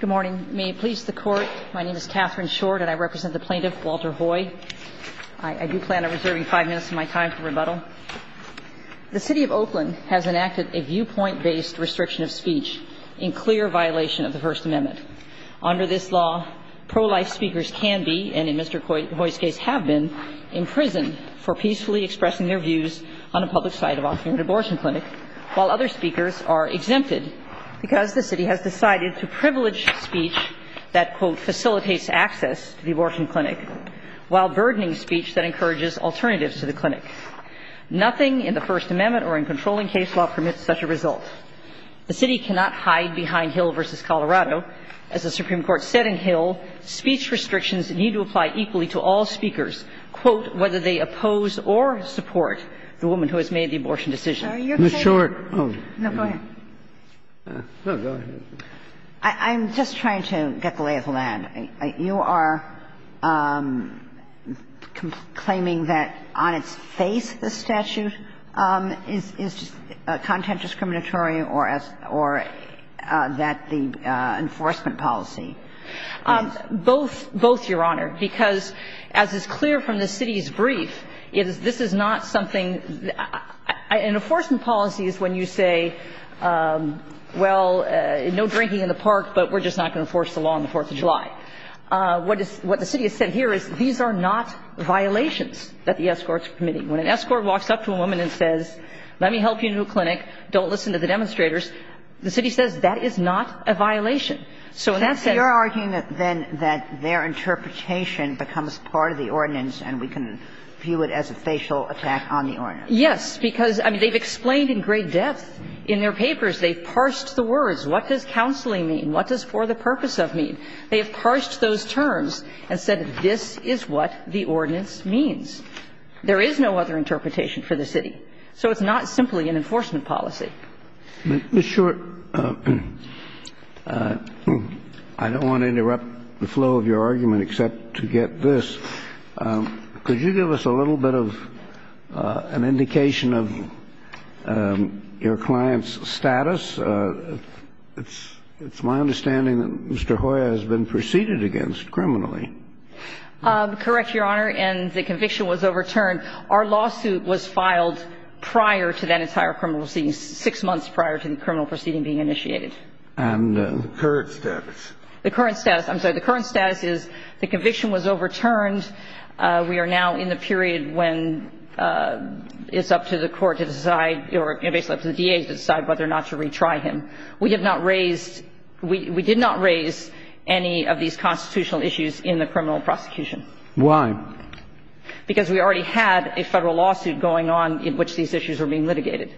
Good morning. May it please the Court, my name is Katherine Short and I represent the plaintiff, Walter Hoye. I do plan on reserving five minutes of my time for rebuttal. The City of Oakland has enacted a viewpoint-based restriction of speech in clear violation of the First Amendment. Under this law, pro-life speakers can be, and in Mr. Hoye's case have been, in prison for peacefully expressing their views on the public side of offering an abortion clinic, while other speakers are exempted because the City has decided to privilege speech that, quote, facilitates access to the abortion clinic, while burdening speech that encourages alternatives to the clinic. Nothing in the First Amendment or in controlling case law permits such a result. The City cannot hide behind Hill v. Colorado. As the Supreme Court said in Hill, speech restrictions need to apply equally to all speakers, quote, whether they oppose or support the woman who has made the abortion decision. MS. SHORT. MR. KANE. I'm sorry, you're going to go ahead. MS. KAGAN. Go ahead. MS. SHORT. I'm just trying to get the lay of the land. You are claiming that on its face, the statute is content discriminatory or as the enforcement policy. MS. KANE. Both, Your Honor, because as is clear from the city's brief, this is not something an enforcement policy is when you say, well, no drinking in the park, but we're just not going to enforce the law on the Fourth of July. What the city has said here is these are not violations that the escorts are committing. When an escort walks up to a woman and says, let me help you into a clinic, don't listen to the demonstrators, the city says that is not a violation. So in that sense you're arguing then that their interpretation becomes part of the ordinance and we can view it as a facial attack on the ordinance. Yes, because, I mean, they've explained in great depth in their papers. They've parsed the words. What does counseling mean? What does for the purpose of mean? They have parsed those terms and said this is what the ordinance means. There is no other interpretation for the city. So it's not simply an enforcement policy. Ms. Short, I don't want to interrupt the flow of your argument except to get this. Could you give us a little bit of an indication of your client's status? It's my understanding that Mr. Hoyer has been preceded against criminally. Correct, Your Honor, and the conviction was overturned. Our lawsuit was filed prior to that entire criminal proceeding, six months prior to the criminal proceeding being initiated. And the current status? The current status. I'm sorry. The current status is the conviction was overturned. We are now in the period when it's up to the court to decide, or basically up to the DA to decide whether or not to retry him. We did not raise any of these constitutional issues in the criminal prosecution. Why? Because we already had a Federal lawsuit going on in which these issues were being litigated.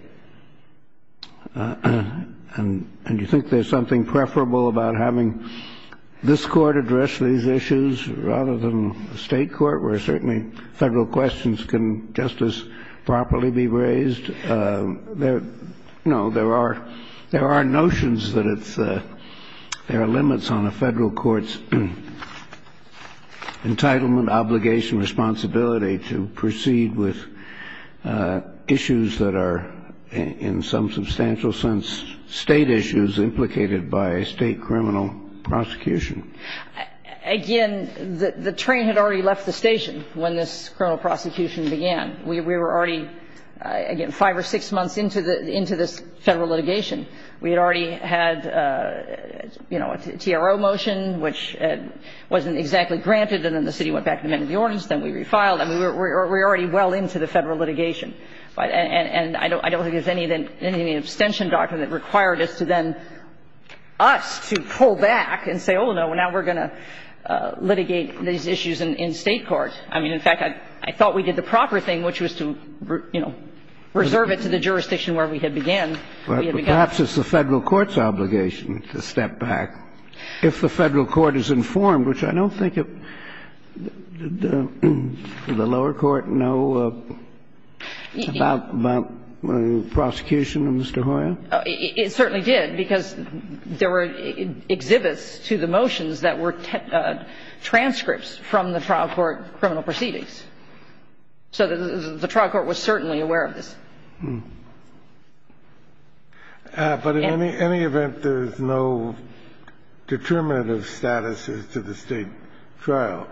And you think there's something preferable about having this Court address these issues rather than the State court, where certainly Federal questions can just as properly be raised? No. There are notions that it's there are limits on a Federal court's entitlement, obligation, responsibility to proceed with issues that are in some substantial sense State issues implicated by a State criminal prosecution. Again, the train had already left the station when this criminal prosecution began. We were already, again, five or six months into this Federal litigation. We had already had, you know, a TRO motion, which wasn't exactly granted, and then the city went back to the men of the ordinance, then we refiled. I mean, we were already well into the Federal litigation. And I don't think there's anything in the abstention doctrine that required us to then us to pull back and say, oh, no, now we're going to litigate these issues in State court. I mean, in fact, I thought we did the proper thing, which was to, you know, reserve it to the jurisdiction where we had began, where we had begun. But perhaps it's the Federal court's obligation to step back. If the Federal court is informed, which I don't think it – did the lower court know about the prosecution of Mr. Hoyer? It certainly did, because there were exhibits to the motions that were transcripts from the trial court criminal proceedings. So the trial court was certainly aware of this. But in any event, there's no determinative status as to the State trial.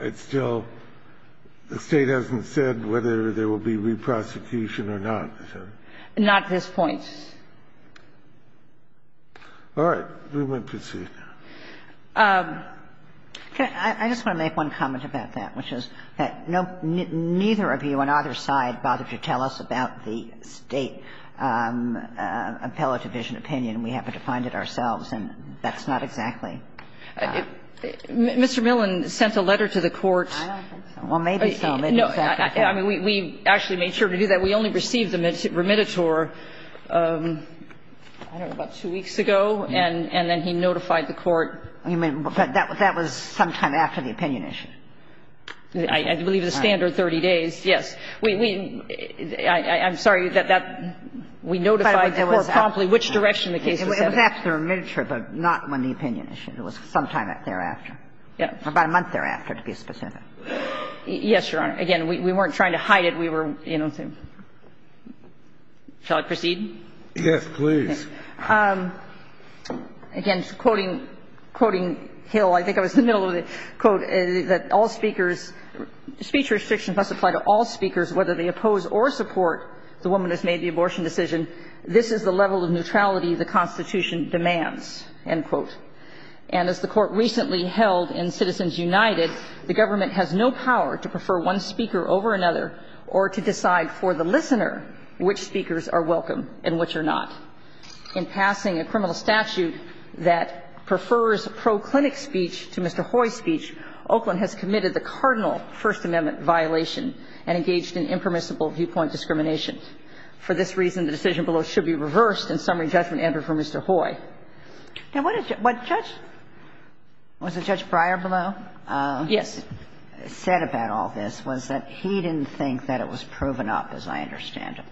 It's still – the State hasn't said whether there will be reprosecution or not. Not at this point. All right. We might proceed now. I just want to make one comment about that, which is that neither of you on either side bothered to tell us about the State appellate division opinion. We happened to find it ourselves, and that's not exactly how. Mr. Millen sent a letter to the court. I don't think so. Well, maybe so. Maybe exactly so. I mean, we actually made sure to do that. We only received the remittitor, I don't know, about two weeks ago. And then he notified the court. But that was sometime after the opinion issue. I believe the standard 30 days, yes. We – I'm sorry that that – we notified the court promptly which direction the case was headed. It was after the remittitor, but not when the opinion issue. It was sometime thereafter. Yes. About a month thereafter, to be specific. Yes, Your Honor. Again, we weren't trying to hide it. We were, you know, saying. Shall I proceed? Yes, please. Again, quoting Hill, I think I was in the middle of the quote, that all speakers – speech restrictions must apply to all speakers, whether they oppose or support the woman who's made the abortion decision. This is the level of neutrality the Constitution demands, end quote. And as the court recently held in Citizens United, the government has no power to prefer one speaker over another or to decide for the listener which speakers are welcome and which are not. In passing a criminal statute that prefers pro clinic speech to Mr. Hoy's speech, Oakland has committed the cardinal First Amendment violation and engaged in impermissible viewpoint discrimination. For this reason, the decision below should be reversed, and summary judgment entered for Mr. Hoy. Now, what Judge – was it Judge Breyer below? Yes. Said about all this was that he didn't think that it was proven up, as I understand it,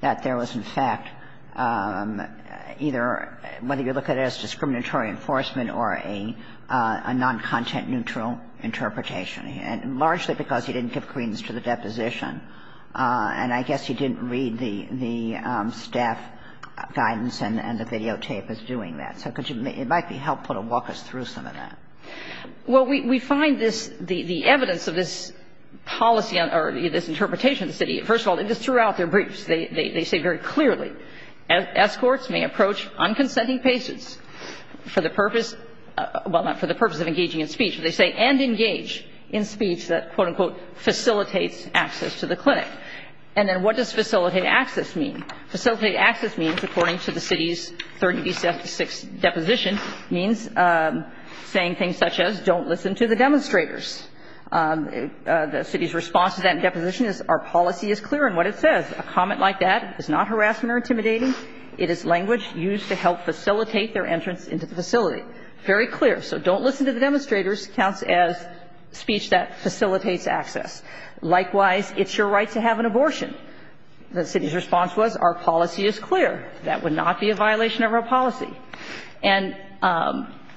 that there was, in fact, either whether you look at it as discriminatory enforcement or a noncontent-neutral interpretation, largely because he didn't give credence to the deposition. And I guess he didn't read the staff guidance and the videotape as doing that. So could you – it might be helpful to walk us through some of that. Well, we find this – the evidence of this policy or this interpretation of the city – first of all, just throughout their briefs, they say very clearly And then what does facilitate access mean? Facilitate access means, according to the city's 30b-76 deposition, means saying things such as don't listen to the demonstrators. The city's response to that in deposition is our policy is clear in what it says. It's not harassment or intimidation. It is language used to help facilitate their entrance into the facility. Very clear. So don't listen to the demonstrators counts as speech that facilitates access. Likewise, it's your right to have an abortion. The city's response was our policy is clear. That would not be a violation of our policy. And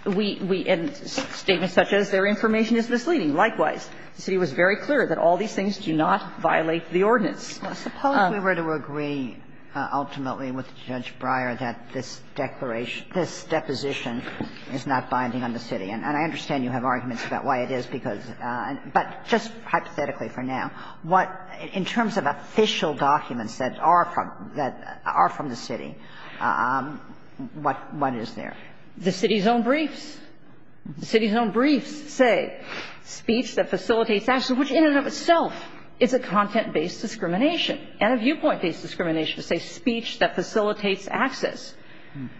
we – and statements such as their information is misleading. Likewise, the city was very clear that all these things do not violate the ordinance. Suppose we were to agree ultimately with Judge Breyer that this declaration – this deposition is not binding on the city. And I understand you have arguments about why it is because – but just hypothetically for now, what – in terms of official documents that are from – that are from the city, what is there? The city's own briefs. The city's own briefs say speech that facilitates access, which in and of itself is a content-based discrimination and a viewpoint-based discrimination. It's a speech that facilitates access.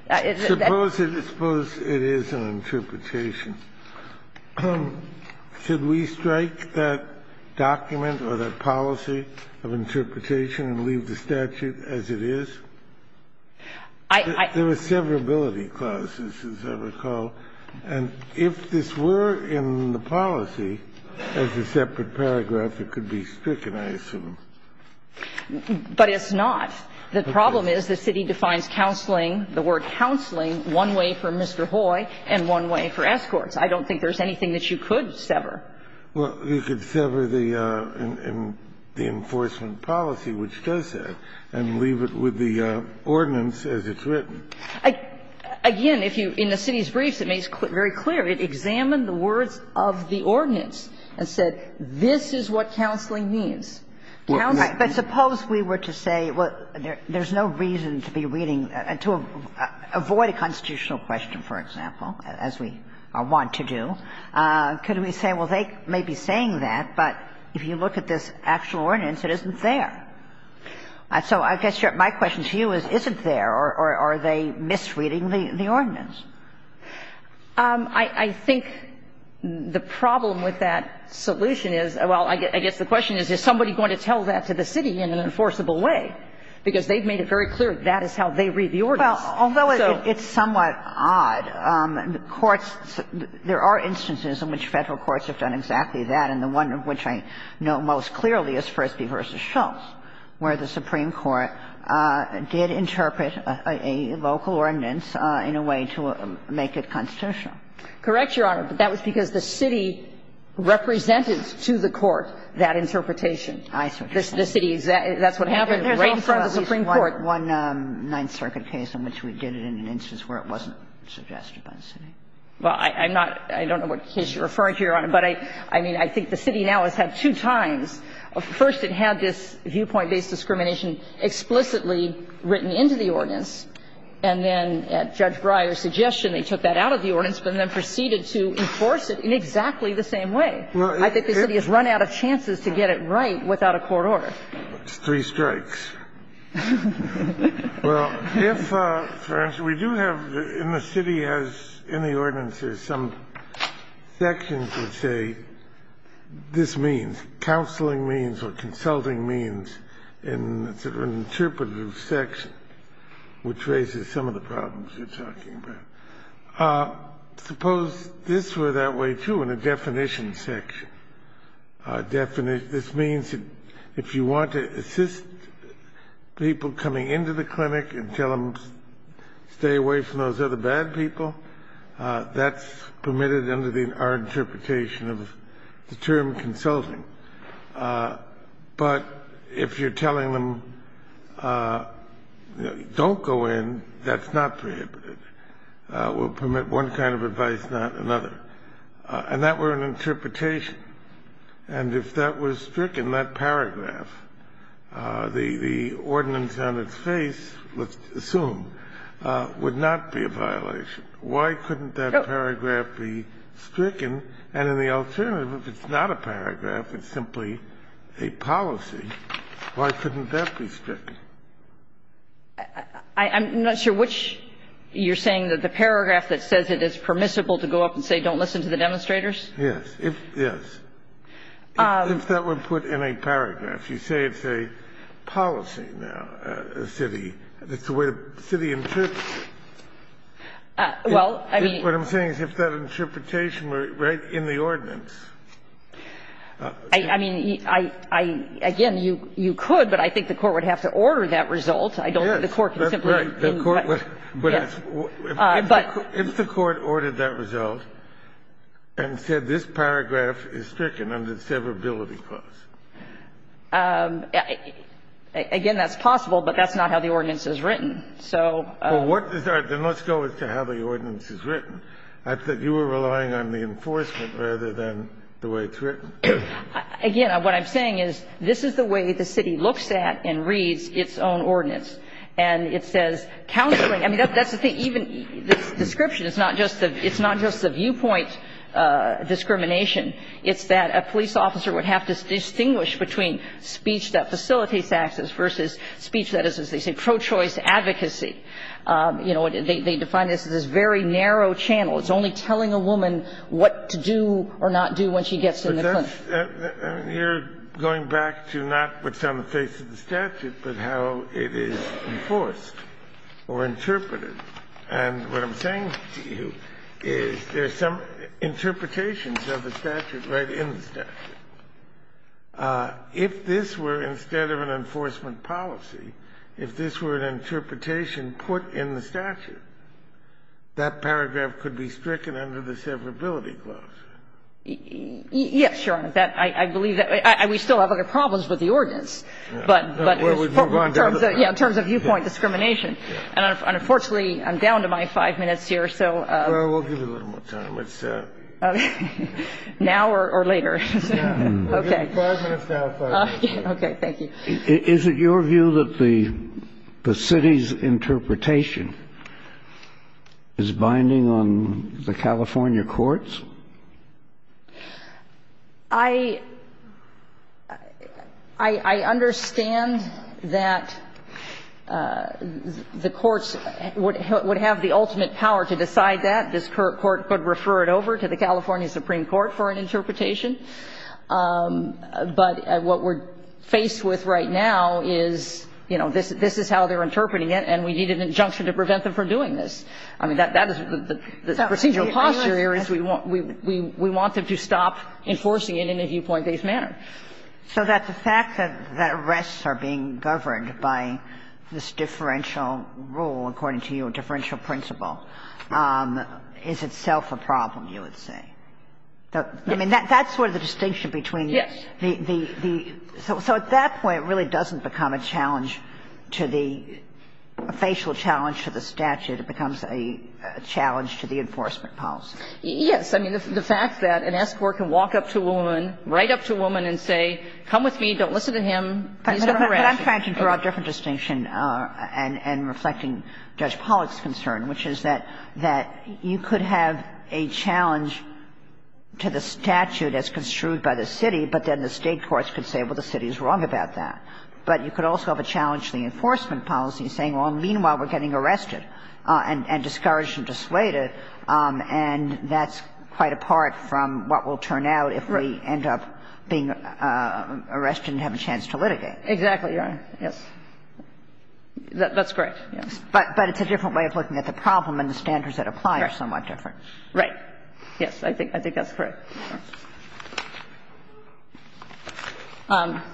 It's a – Suppose it is – suppose it is an interpretation. Should we strike that document or that policy of interpretation and leave the statute as it is? I – I – There were severability clauses, as I recall. And if this were in the policy as a separate paragraph, it could be stricken, I assume. But it's not. The problem is the city defines counseling, the word counseling, one way for Mr. Hoy and one way for escorts. I don't think there's anything that you could sever. Well, you could sever the enforcement policy, which does that, and leave it with the ordinance as it's written. Again, if you – in the city's briefs, it makes very clear it examined the words of the ordinance and said this is what counseling means. Counseling – Right. But suppose we were to say, well, there's no reason to be reading – to avoid a constitutional question, for example, as we want to do. Could we say, well, they may be saying that, but if you look at this actual ordinance, it isn't there. So I guess my question to you is, is it there, or are they misreading the ordinance? I think the problem with that solution is – well, I guess the question is, is somebody going to tell that to the city in an enforceable way? Because they've made it very clear that is how they read the ordinance. Well, although it's somewhat odd. Courts – there are instances in which Federal courts have done exactly that, and one of which I know most clearly is Frisbee v. Shultz, where the Supreme Court did interpret a local ordinance in a way to make it constitutional. Correct, Your Honor. But that was because the city represented to the court that interpretation. I suggest that. The city – that's what happened right in front of the Supreme Court. There's also a case, one Ninth Circuit case, in which we did it in an instance where it wasn't suggested by the city. Well, I'm not – I don't know what case you're referring to, Your Honor. But I mean, I think the city now has had two times. First, it had this viewpoint-based discrimination explicitly written into the ordinance, and then at Judge Breyer's suggestion, they took that out of the ordinance, but then proceeded to enforce it in exactly the same way. I think the city has run out of chances to get it right without a court order. It's three strikes. Well, if, for instance, we do have in the city as in the ordinance, there's some sections that say this means, counseling means or consulting means in sort of an interpretive section, which raises some of the problems you're talking about. Suppose this were that way, too, in a definition section. This means if you want to assist people coming into the clinic and tell them stay away from those other bad people, that's permitted under our interpretation of the term consulting. But if you're telling them don't go in, that's not prohibited. We'll permit one kind of advice, not another. And that were an interpretation. And if that was stricken, that paragraph, the ordinance on its face, let's assume, would not be a violation. Why couldn't that paragraph be stricken? And in the alternative, if it's not a paragraph, it's simply a policy, why couldn't that be stricken? I'm not sure which you're saying, that the paragraph that says it is permissible to go up and say don't listen to the demonstrators? Yes. Yes. If that were put in a paragraph, you say it's a policy now, a city. It's the way the city interprets it. Well, I mean. What I'm saying is if that interpretation were right in the ordinance. I mean, I, again, you could, but I think the court would have to order that result. I don't think the court can simply. I'm sorry. If the court ordered that result and said this paragraph is stricken under the severability clause. Again, that's possible, but that's not how the ordinance is written. So. Then let's go as to how the ordinance is written. I thought you were relying on the enforcement rather than the way it's written. Again, what I'm saying is this is the way the city looks at and reads its own ordinance. And it says counseling. I mean, that's the thing. Even this description. It's not just the viewpoint discrimination. It's that a police officer would have to distinguish between speech that facilitates access versus speech that is, as they say, pro-choice advocacy. You know, they define this as this very narrow channel. It's only telling a woman what to do or not do when she gets in the clinic. You're going back to not what's on the face of the statute, but how it is enforced or interpreted. And what I'm saying to you is there's some interpretations of the statute right in the statute. If this were, instead of an enforcement policy, if this were an interpretation put in the statute, that paragraph could be stricken under the severability clause. I agree, Your Honor. Yes, Your Honor. That, I believe that we still have other problems with the ordinance. But, yeah, in terms of viewpoint discrimination. And unfortunately, I'm down to my five minutes here, so. Well, we'll give you a little more time. Now or later? Okay. Five minutes down, please. Okay, thank you. Is it your view that the city's interpretation is binding on the California courts? I understand that the courts would have the ultimate power to decide that. This court could refer it over to the California Supreme Court for an interpretation. But what we're faced with right now is, you know, this is how they're interpreting it, and we need an injunction to prevent them from doing this. I mean, that is the procedural posture here is we want them to stop enforcing it in a viewpoint-based manner. So that the fact that arrests are being governed by this differential rule, according to your differential principle, is itself a problem, you would say? I mean, that's sort of the distinction between the so at that point it really doesn't become a challenge to the facial challenge to the statute. It becomes a challenge to the enforcement policy. Yes. I mean, the fact that an escort can walk up to a woman, right up to a woman and say, come with me, don't listen to him, please don't harass me. But I'm trying to draw a different distinction and reflecting Judge Pollack's concern, which is that you could have a challenge to the statute as construed by the city, but then the state courts could say, well, the city is wrong about that. But you could also have a challenge to the enforcement policy saying, well, meanwhile, we're getting arrested and discouraged and dissuaded, and that's quite apart from what will turn out if we end up being arrested and have a chance to litigate. Exactly, Your Honor. Yes. That's correct, yes. But it's a different way of looking at the problem, and the standards that apply are somewhat different. Yes. I think that's correct. I'd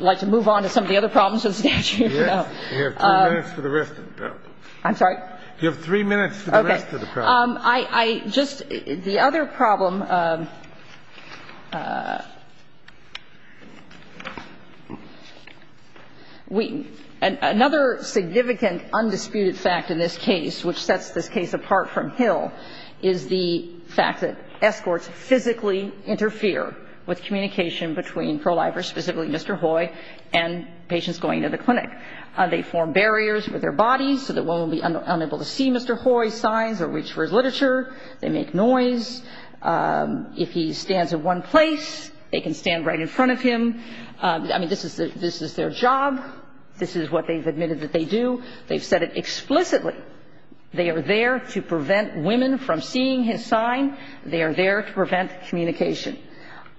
like to move on to some of the other problems with the statute. Yes. You have three minutes for the rest of the problem. I'm sorry? You have three minutes for the rest of the problem. Okay. I just the other problem, we and another significant undisputed fact in this case which sets this case apart from Hill is the fact that escorts physically interfere with communication between pro-lifers, specifically Mr. Hoy and patients going to the clinic. They form barriers with their bodies so that one will be unable to see Mr. Hoy's signs or reach for his literature. They make noise. If he stands in one place, they can stand right in front of him. I mean, this is their job. This is what they've admitted that they do. They've said it explicitly. They are there to prevent women from seeing his sign. They are there to prevent communication.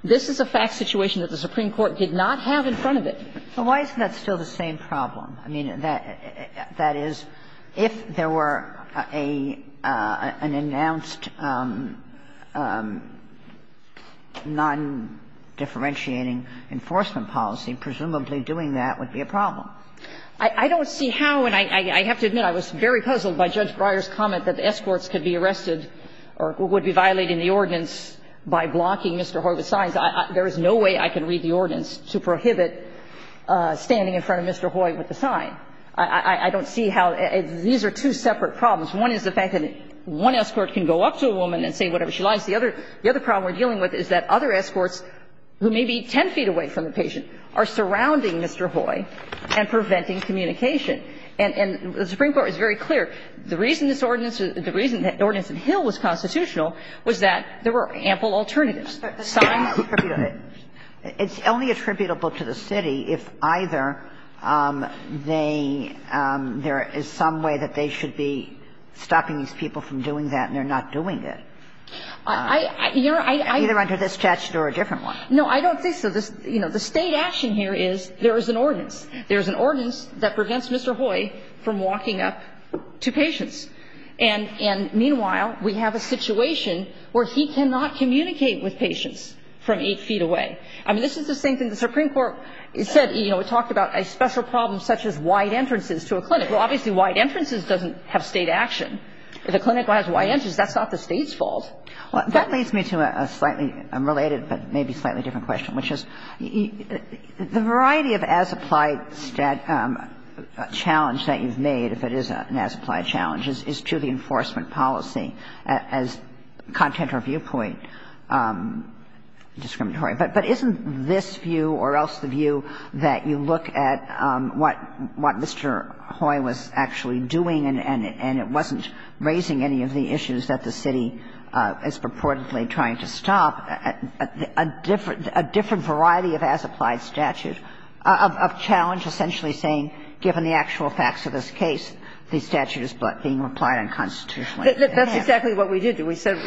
This is a fact situation that the Supreme Court did not have in front of it. But why isn't that still the same problem? I mean, that is, if there were an announced non-differentiating enforcement policy, presumably doing that would be a problem. I don't see how, and I have to admit, I was very puzzled by Judge Breyer's comment that escorts could be arrested or would be violating the ordinance by blocking Mr. Hoy with signs. There is no way I can read the ordinance to prohibit standing in front of Mr. Hoy with a sign. I don't see how these are two separate problems. One is the fact that one escort can go up to a woman and say whatever she likes. The other problem we're dealing with is that other escorts who may be 10 feet away from the patient are surrounding Mr. Hoy and preventing communication. And the Supreme Court is very clear. The reason this ordinance, the reason that Ordinance of Hill was constitutional was that there were ample alternatives. Sotomayor. It's only attributable to the city if either they, there is some way that they should be stopping these people from doing that and they're not doing it. Either under this statute or a different one. No, I don't think so. You know, the state action here is there is an ordinance. There is an ordinance that prevents Mr. Hoy from walking up to patients. And meanwhile, we have a situation where he cannot communicate with patients from eight feet away. I mean, this is the same thing the Supreme Court said, you know, talked about a special problem such as wide entrances to a clinic. Well, obviously wide entrances doesn't have state action. If a clinic has wide entrances, that's not the state's fault. Well, that leads me to a slightly unrelated but maybe slightly different question, which is the variety of as-applied challenge that you've made, if it is an as-applied challenge, is to the enforcement policy as content or viewpoint discriminatory. But isn't this view or else the view that you look at what Mr. Hoy was actually doing and it wasn't raising any of the issues that the city is purportedly trying to stop, a different variety of as-applied statute of challenge essentially saying given the actual facts of this case, the statute is being applied unconstitutionally? That's exactly what we did. We said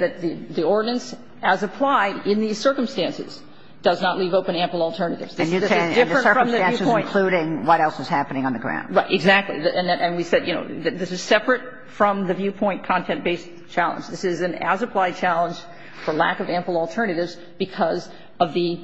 that the ordinance as applied in these circumstances does not leave open ample alternatives. This is different from the viewpoint. And the circumstances including what else is happening on the ground. Exactly. And we said, you know, this is separate from the viewpoint content-based challenge. This is an as-applied challenge for lack of ample alternatives because of the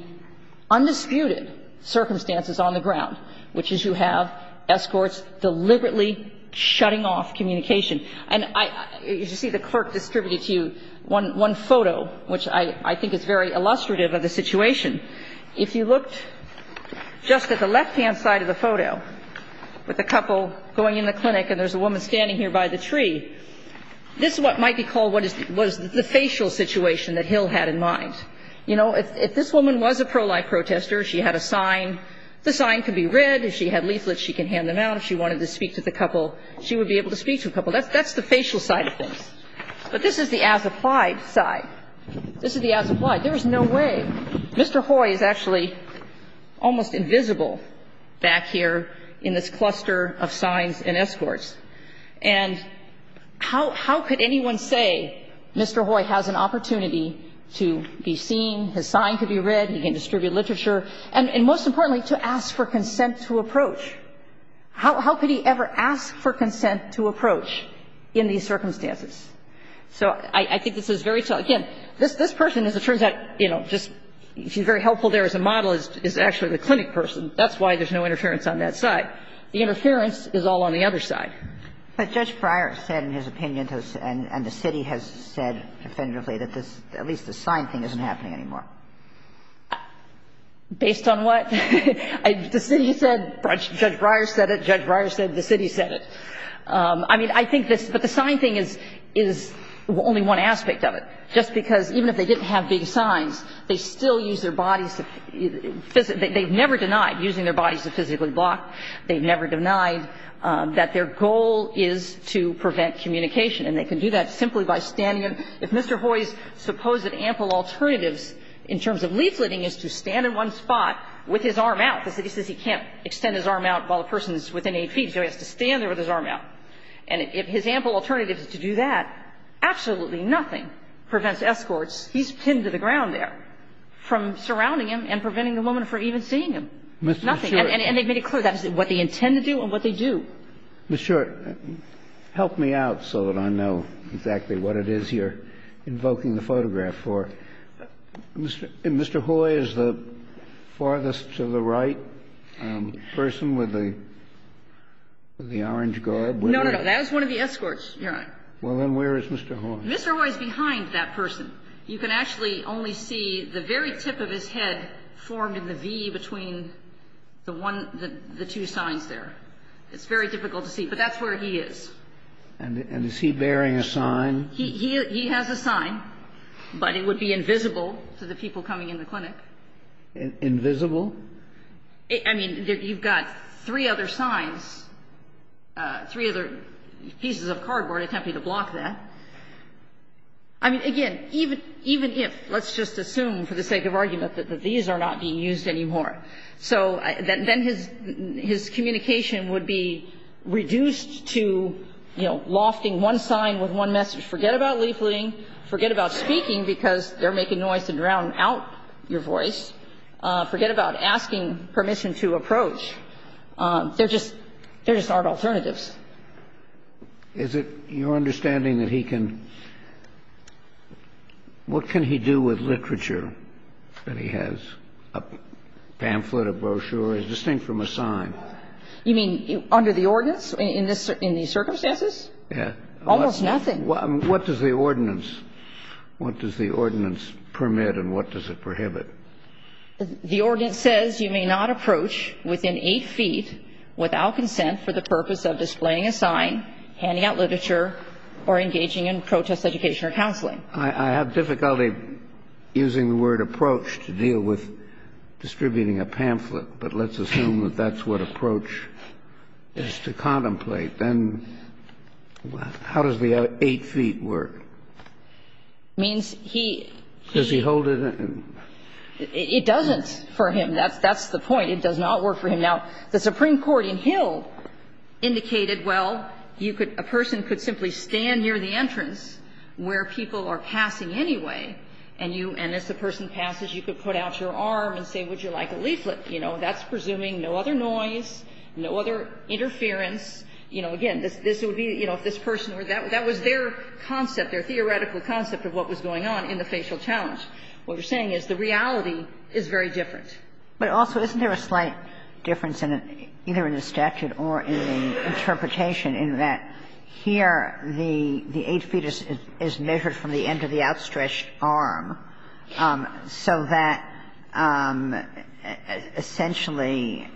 undisputed circumstances on the ground, which is you have escorts deliberately shutting off communication. And I see the clerk distributed to you one photo, which I think is very illustrative of the situation. If you looked just at the left-hand side of the photo with a couple going in the clinic and there's a woman standing here by the tree, this is what might be called what was the facial situation that Hill had in mind. You know, if this woman was a pro-life protester, she had a sign. The sign could be red. If she had leaflets, she could hand them out. If she wanted to speak to the couple, she would be able to speak to a couple. That's the facial side of things. But this is the as-applied side. This is the as-applied. There is no way. Mr. Hoy is actually almost invisible back here in this cluster of signs and escorts. And how could anyone say Mr. Hoy has an opportunity to be seen, his sign could be red, he can distribute literature, and most importantly, to ask for consent to approach? How could he ever ask for consent to approach in these circumstances? So I think this is very tough. Again, this person, as it turns out, you know, just she's very helpful there as a model, is actually the clinic person. That's why there's no interference on that side. The interference is all on the other side. But Judge Breyer said in his opinion, and the city has said definitively, that at least the sign thing isn't happening anymore. Based on what? The city said, Judge Breyer said it, Judge Breyer said the city said it. I mean, I think this, but the sign thing is, is only one aspect of it. Just because even if they didn't have big signs, they still use their bodies to, they've never denied using their bodies to physically block. They've never denied that their goal is to prevent communication. And they can do that simply by standing. If Mr. Hoy's supposed ample alternatives in terms of leafleting is to stand in one spot with his arm out, the city says he can't extend his arm out while the person is within 8 feet, so he has to stand there with his arm out. And if his ample alternative is to do that, absolutely nothing prevents escorts he's pinned to the ground there from surrounding him and preventing the woman from even seeing him. Nothing. And they've made it clear that's what they intend to do and what they do. Mr. Short, help me out so that I know exactly what it is you're invoking the photograph for. Mr. Hoy is the farthest to the right person with the orange guard? No, no, no. That is one of the escorts. You're right. Well, then where is Mr. Hoy? Mr. Hoy is behind that person. You can actually only see the very tip of his head formed in the V between the one the two signs there. It's very difficult to see, but that's where he is. And is he bearing a sign? He has a sign, but it would be invisible to the people coming in the clinic. Invisible? I mean, you've got three other signs, three other pieces of cardboard attempting to block that. I mean, again, even if, let's just assume for the sake of argument that these are not being used anymore, so then his communication would be reduced to, you know, one sign with one message. Forget about leafleting. Forget about speaking because they're making noise to drown out your voice. Forget about asking permission to approach. They're just art alternatives. Is it your understanding that he can – what can he do with literature that he has, a pamphlet, a brochure? It's distinct from a sign. You mean under the ordinance in these circumstances? Yeah. Almost nothing. What does the ordinance – what does the ordinance permit and what does it prohibit? The ordinance says you may not approach within eight feet without consent for the purpose of displaying a sign, handing out literature, or engaging in protest education or counseling. I have difficulty using the word approach to deal with distributing a pamphlet, but let's assume that that's what approach is to contemplate. Then how does the eight feet work? It means he – Does he hold it in? It doesn't for him. That's the point. It does not work for him. Now, the Supreme Court in Hill indicated, well, you could – a person could simply stand near the entrance where people are passing anyway, and you – and as the person passes, you could put out your arm and say, would you like a leaflet? You know, that's presuming no other noise, no other interference. You know, again, this would be, you know, if this person were – that was their concept, their theoretical concept of what was going on in the facial challenge. What you're saying is the reality is very different. But also, isn't there a slight difference in it, either in the statute or in the interpretation, in that here the eight feet is measured from the end of the outstretched arm, so that essentially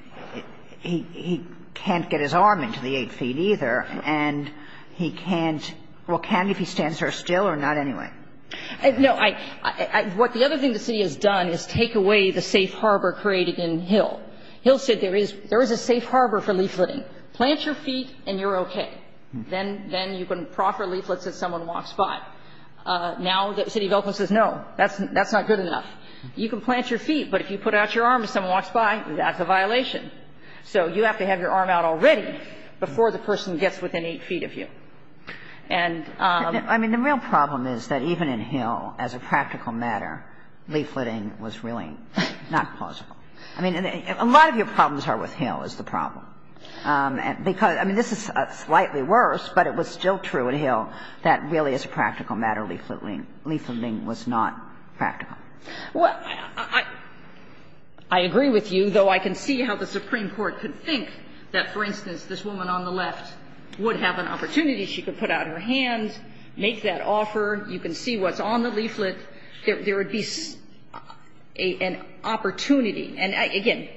he can't get his arm into the eight feet either, and he can't – well, can if he stands there still or not anyway? No. I – what the other thing the city has done is take away the safe harbor created in Hill. Hill said there is a safe harbor for leafleting. Plant your feet and you're okay. Then you can proffer leaflets if someone walks by. Now the city of Elkland says, no, that's not good enough. You can plant your feet, but if you put out your arm and someone walks by, that's a violation. So you have to have your arm out already before the person gets within eight feet of you. And the real problem is that even in Hill, as a practical matter, leafleting was really not plausible. I mean, a lot of your problems are with Hill is the problem. Because, I mean, this is slightly worse, but it was still true in Hill that really this practical matter, leafleting, was not practical. Well, I agree with you, though I can see how the Supreme Court could think that, for instance, this woman on the left would have an opportunity. She could put out her hand, make that offer. You can see what's on the leaflet. There would be an opportunity. And, again,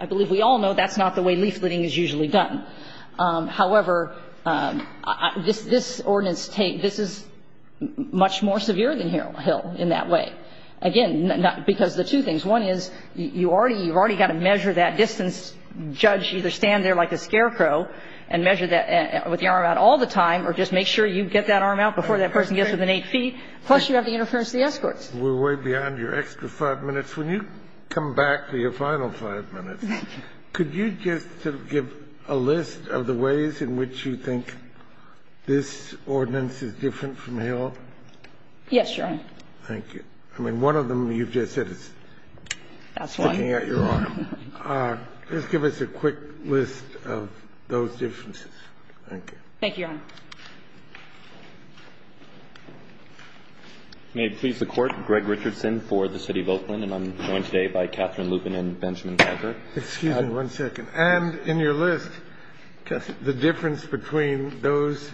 I believe we all know that's not the way leafleting is usually done. However, this ordinance takes this is much more severe than Hill in that way. Again, because the two things. One is you already got to measure that distance. Judge, either stand there like a scarecrow and measure that with your arm out all the time or just make sure you get that arm out before that person gets within eight feet. Plus, you have the interference of the escorts. We're way beyond your extra five minutes. When you come back to your final five minutes, could you just sort of give a list of the ways in which you think this ordinance is different from Hill? Yes, Your Honor. Thank you. I mean, one of them you've just said is sticking out your arm. That's one. Just give us a quick list of those differences. Thank you. Thank you, Your Honor. May it please the Court. Greg Richardson for the City of Oakland. And I'm joined today by Catherine Lupin and Benjamin Calvert. Excuse me one second. And in your list, the difference between those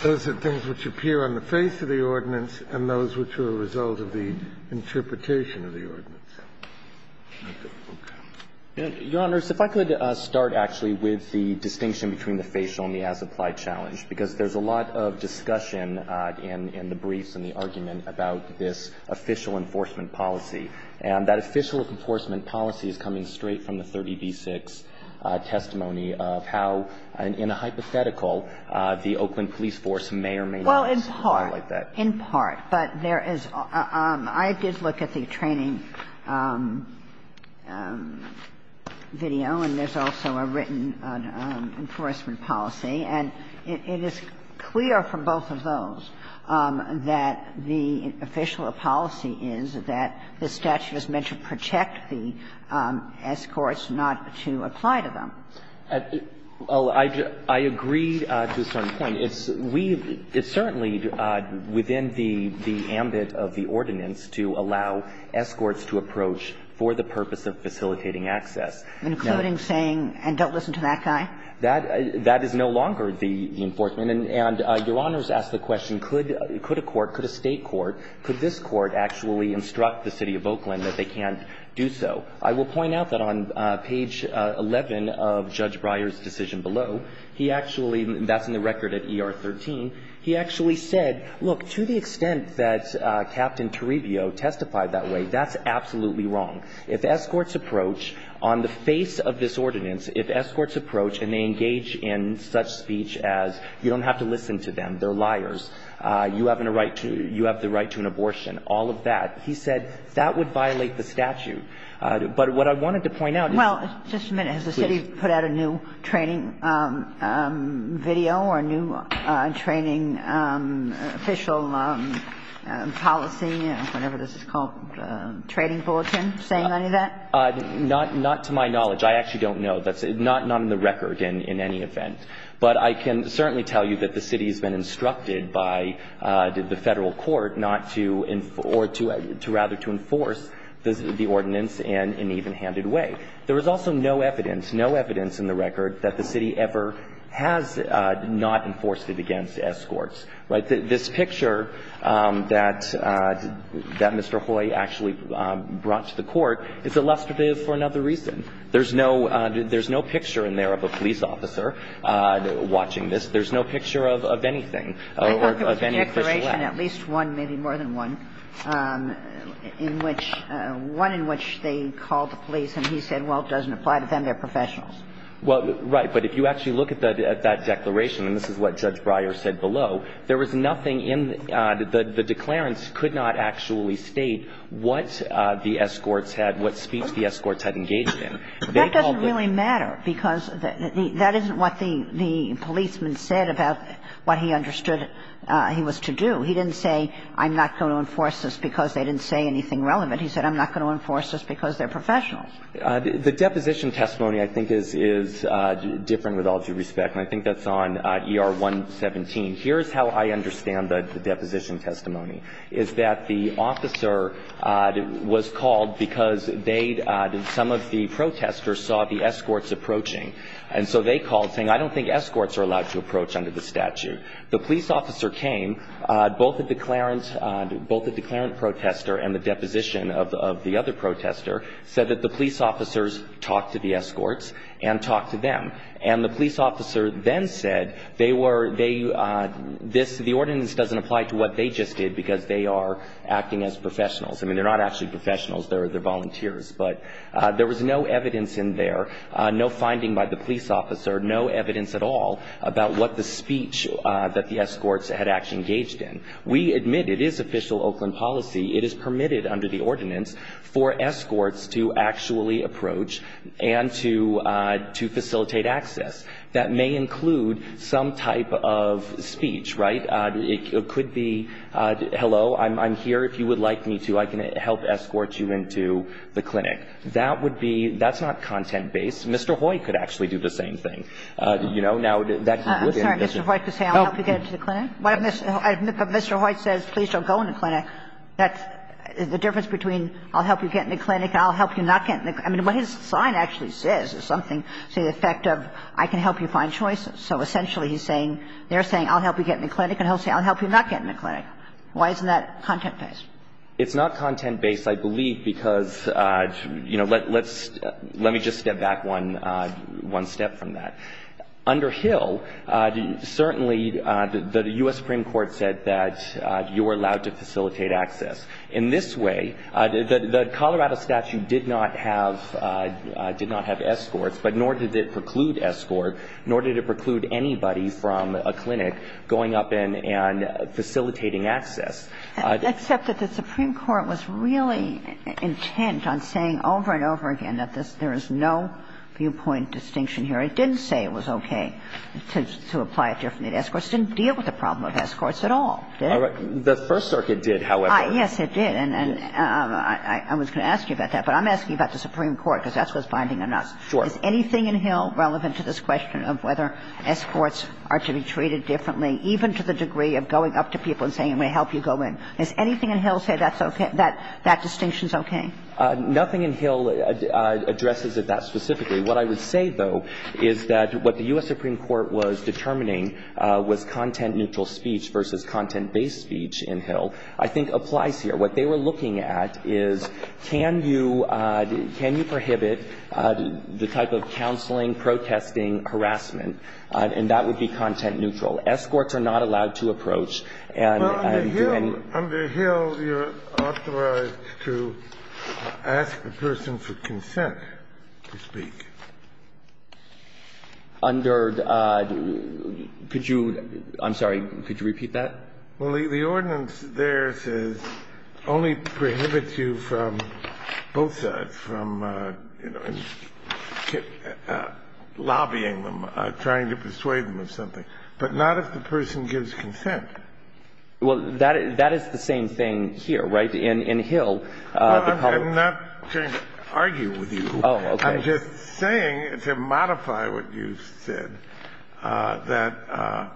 things which appear on the face of the ordinance and those which are a result of the interpretation of the ordinance. Okay. Your Honors, if I could start actually with the distinction between the facial and the as-applied challenge. Because there's a lot of discussion in the briefs and the argument about this official enforcement policy. And that official enforcement policy is coming straight from the 30b-6 testimony of how, in a hypothetical, the Oakland police force may or may not. Well, in part. In part. But there is – I did look at the training video, and there's also a written enforcement policy. And it is clear from both of those that the official policy is that the statute is meant to protect the escorts, not to apply to them. Well, I agree to a certain point. It's certainly within the ambit of the ordinance to allow escorts to approach for the purpose of facilitating access. Including saying, and don't listen to that guy? That is no longer the enforcement. And Your Honors asked the question, could a court, could a State court, could this court actually instruct the City of Oakland that they can't do so? Well, I will point out that on page 11 of Judge Breyer's decision below, he actually – that's in the record at ER 13 – he actually said, look, to the extent that Captain Toribio testified that way, that's absolutely wrong. If escorts approach on the face of this ordinance, if escorts approach and they engage in such speech as you don't have to listen to them, they're liars, you have the right to an abortion, all of that, he said that would violate the statute. But what I wanted to point out is – Well, just a minute. Has the City put out a new training video or a new training official policy, whatever this is called, training bulletin, saying any of that? Not to my knowledge. I actually don't know. That's not on the record in any event. But I can certainly tell you that the City has been instructed by the Federal Court not to – or to rather to enforce the ordinance in an even-handed way. There is also no evidence, no evidence in the record that the City ever has not enforced it against escorts, right? This picture that Mr. Hoy actually brought to the Court is illustrative for another reason. There's no picture in there of a police officer watching this. There's no picture of anything, of any official act. So in this case, there's nothing in there that is actually a police officer watching this, and the only thing that's in there is a declaration, at least one, maybe more than one, in which – one in which they called the police and he said, well, it doesn't apply to them, they're professionals. Well, right. But if you actually look at that declaration, and this is what Judge Breyer said below, there was nothing in – the declarants could not actually state what the escorts had – what speech the escorts had engaged in. That doesn't really matter because that isn't what the policeman said about what he understood he was to do. He didn't say, I'm not going to enforce this because they didn't say anything relevant. He said, I'm not going to enforce this because they're professionals. The deposition testimony, I think, is different with all due respect, and I think that's on ER 117. Here's how I understand the deposition testimony, is that the officer was called because they – some of the protesters saw the escorts approaching. And so they called, saying, I don't think escorts are allowed to approach under the statute. The police officer came. Both the declarant – both the declarant protester and the deposition of the other protester said that the police officers talked to the escorts and talked to them. And the police officer then said they were – this – the ordinance doesn't apply to what they just did because they are acting as professionals. I mean, they're not actually professionals. They're volunteers. But there was no evidence in there, no finding by the police officer, no evidence at all about what the speech that the escorts had actually engaged in. We admit it is official Oakland policy. It is permitted under the ordinance for escorts to actually approach and to facilitate access. That may include some type of speech, right? It could be, hello, I'm here. If you would like me to, I can help escort you into the clinic. That would be – that's not content-based. Mr. Hoy could actually do the same thing. You know, now, that would be an admission. I'm sorry. Mr. Hoy could say, I'll help you get into the clinic? Mr. Hoy says, please don't go in the clinic. That's – the difference between I'll help you get in the clinic and I'll help you not get in the – I mean, what his sign actually says is something to the effect of, I can help you find choices. So essentially he's saying – they're saying, I'll help you get in the clinic and he'll say, I'll help you not get in the clinic. Why isn't that content-based? It's not content-based, I believe, because, you know, let's – let me just step back one – one step from that. Under Hill, certainly the U.S. Supreme Court said that you were allowed to facilitate access. In this way, the Colorado statute did not have – did not have escorts, but nor did it preclude escort, nor did it preclude anybody from a clinic going up and facilitating access. Except that the Supreme Court was really intent on saying over and over again that this – there is no viewpoint distinction here. It didn't say it was okay to apply it differently. The escorts didn't deal with the problem of escorts at all, did it? The First Circuit did, however. Yes, it did. And I was going to ask you about that, but I'm asking about the Supreme Court because that's what's binding on us. Sure. Is anything in Hill relevant to this question of whether escorts are to be treated differently, even to the degree of going up to people and saying, I'm going to help you go in? Does anything in Hill say that's okay – that that distinction's okay? Nothing in Hill addresses it that specifically. What I would say, though, is that what the U.S. Supreme Court was determining was content-neutral speech versus content-based speech in Hill I think applies What they were looking at is can you – can you prohibit the type of counseling, protesting, harassment, and that would be content-neutral. Escorts are not allowed to approach and do anything. Well, under Hill you're authorized to ask a person for consent to speak. Under – could you – I'm sorry. Could you repeat that? Well, the ordinance there says only prohibit you from both sides, from, you know, lobbying them, trying to persuade them of something, but not if the person gives consent. Well, that is the same thing here, right? In Hill, the public – No, I'm not trying to argue with you. Oh, okay. I'm just saying, to modify what you said, that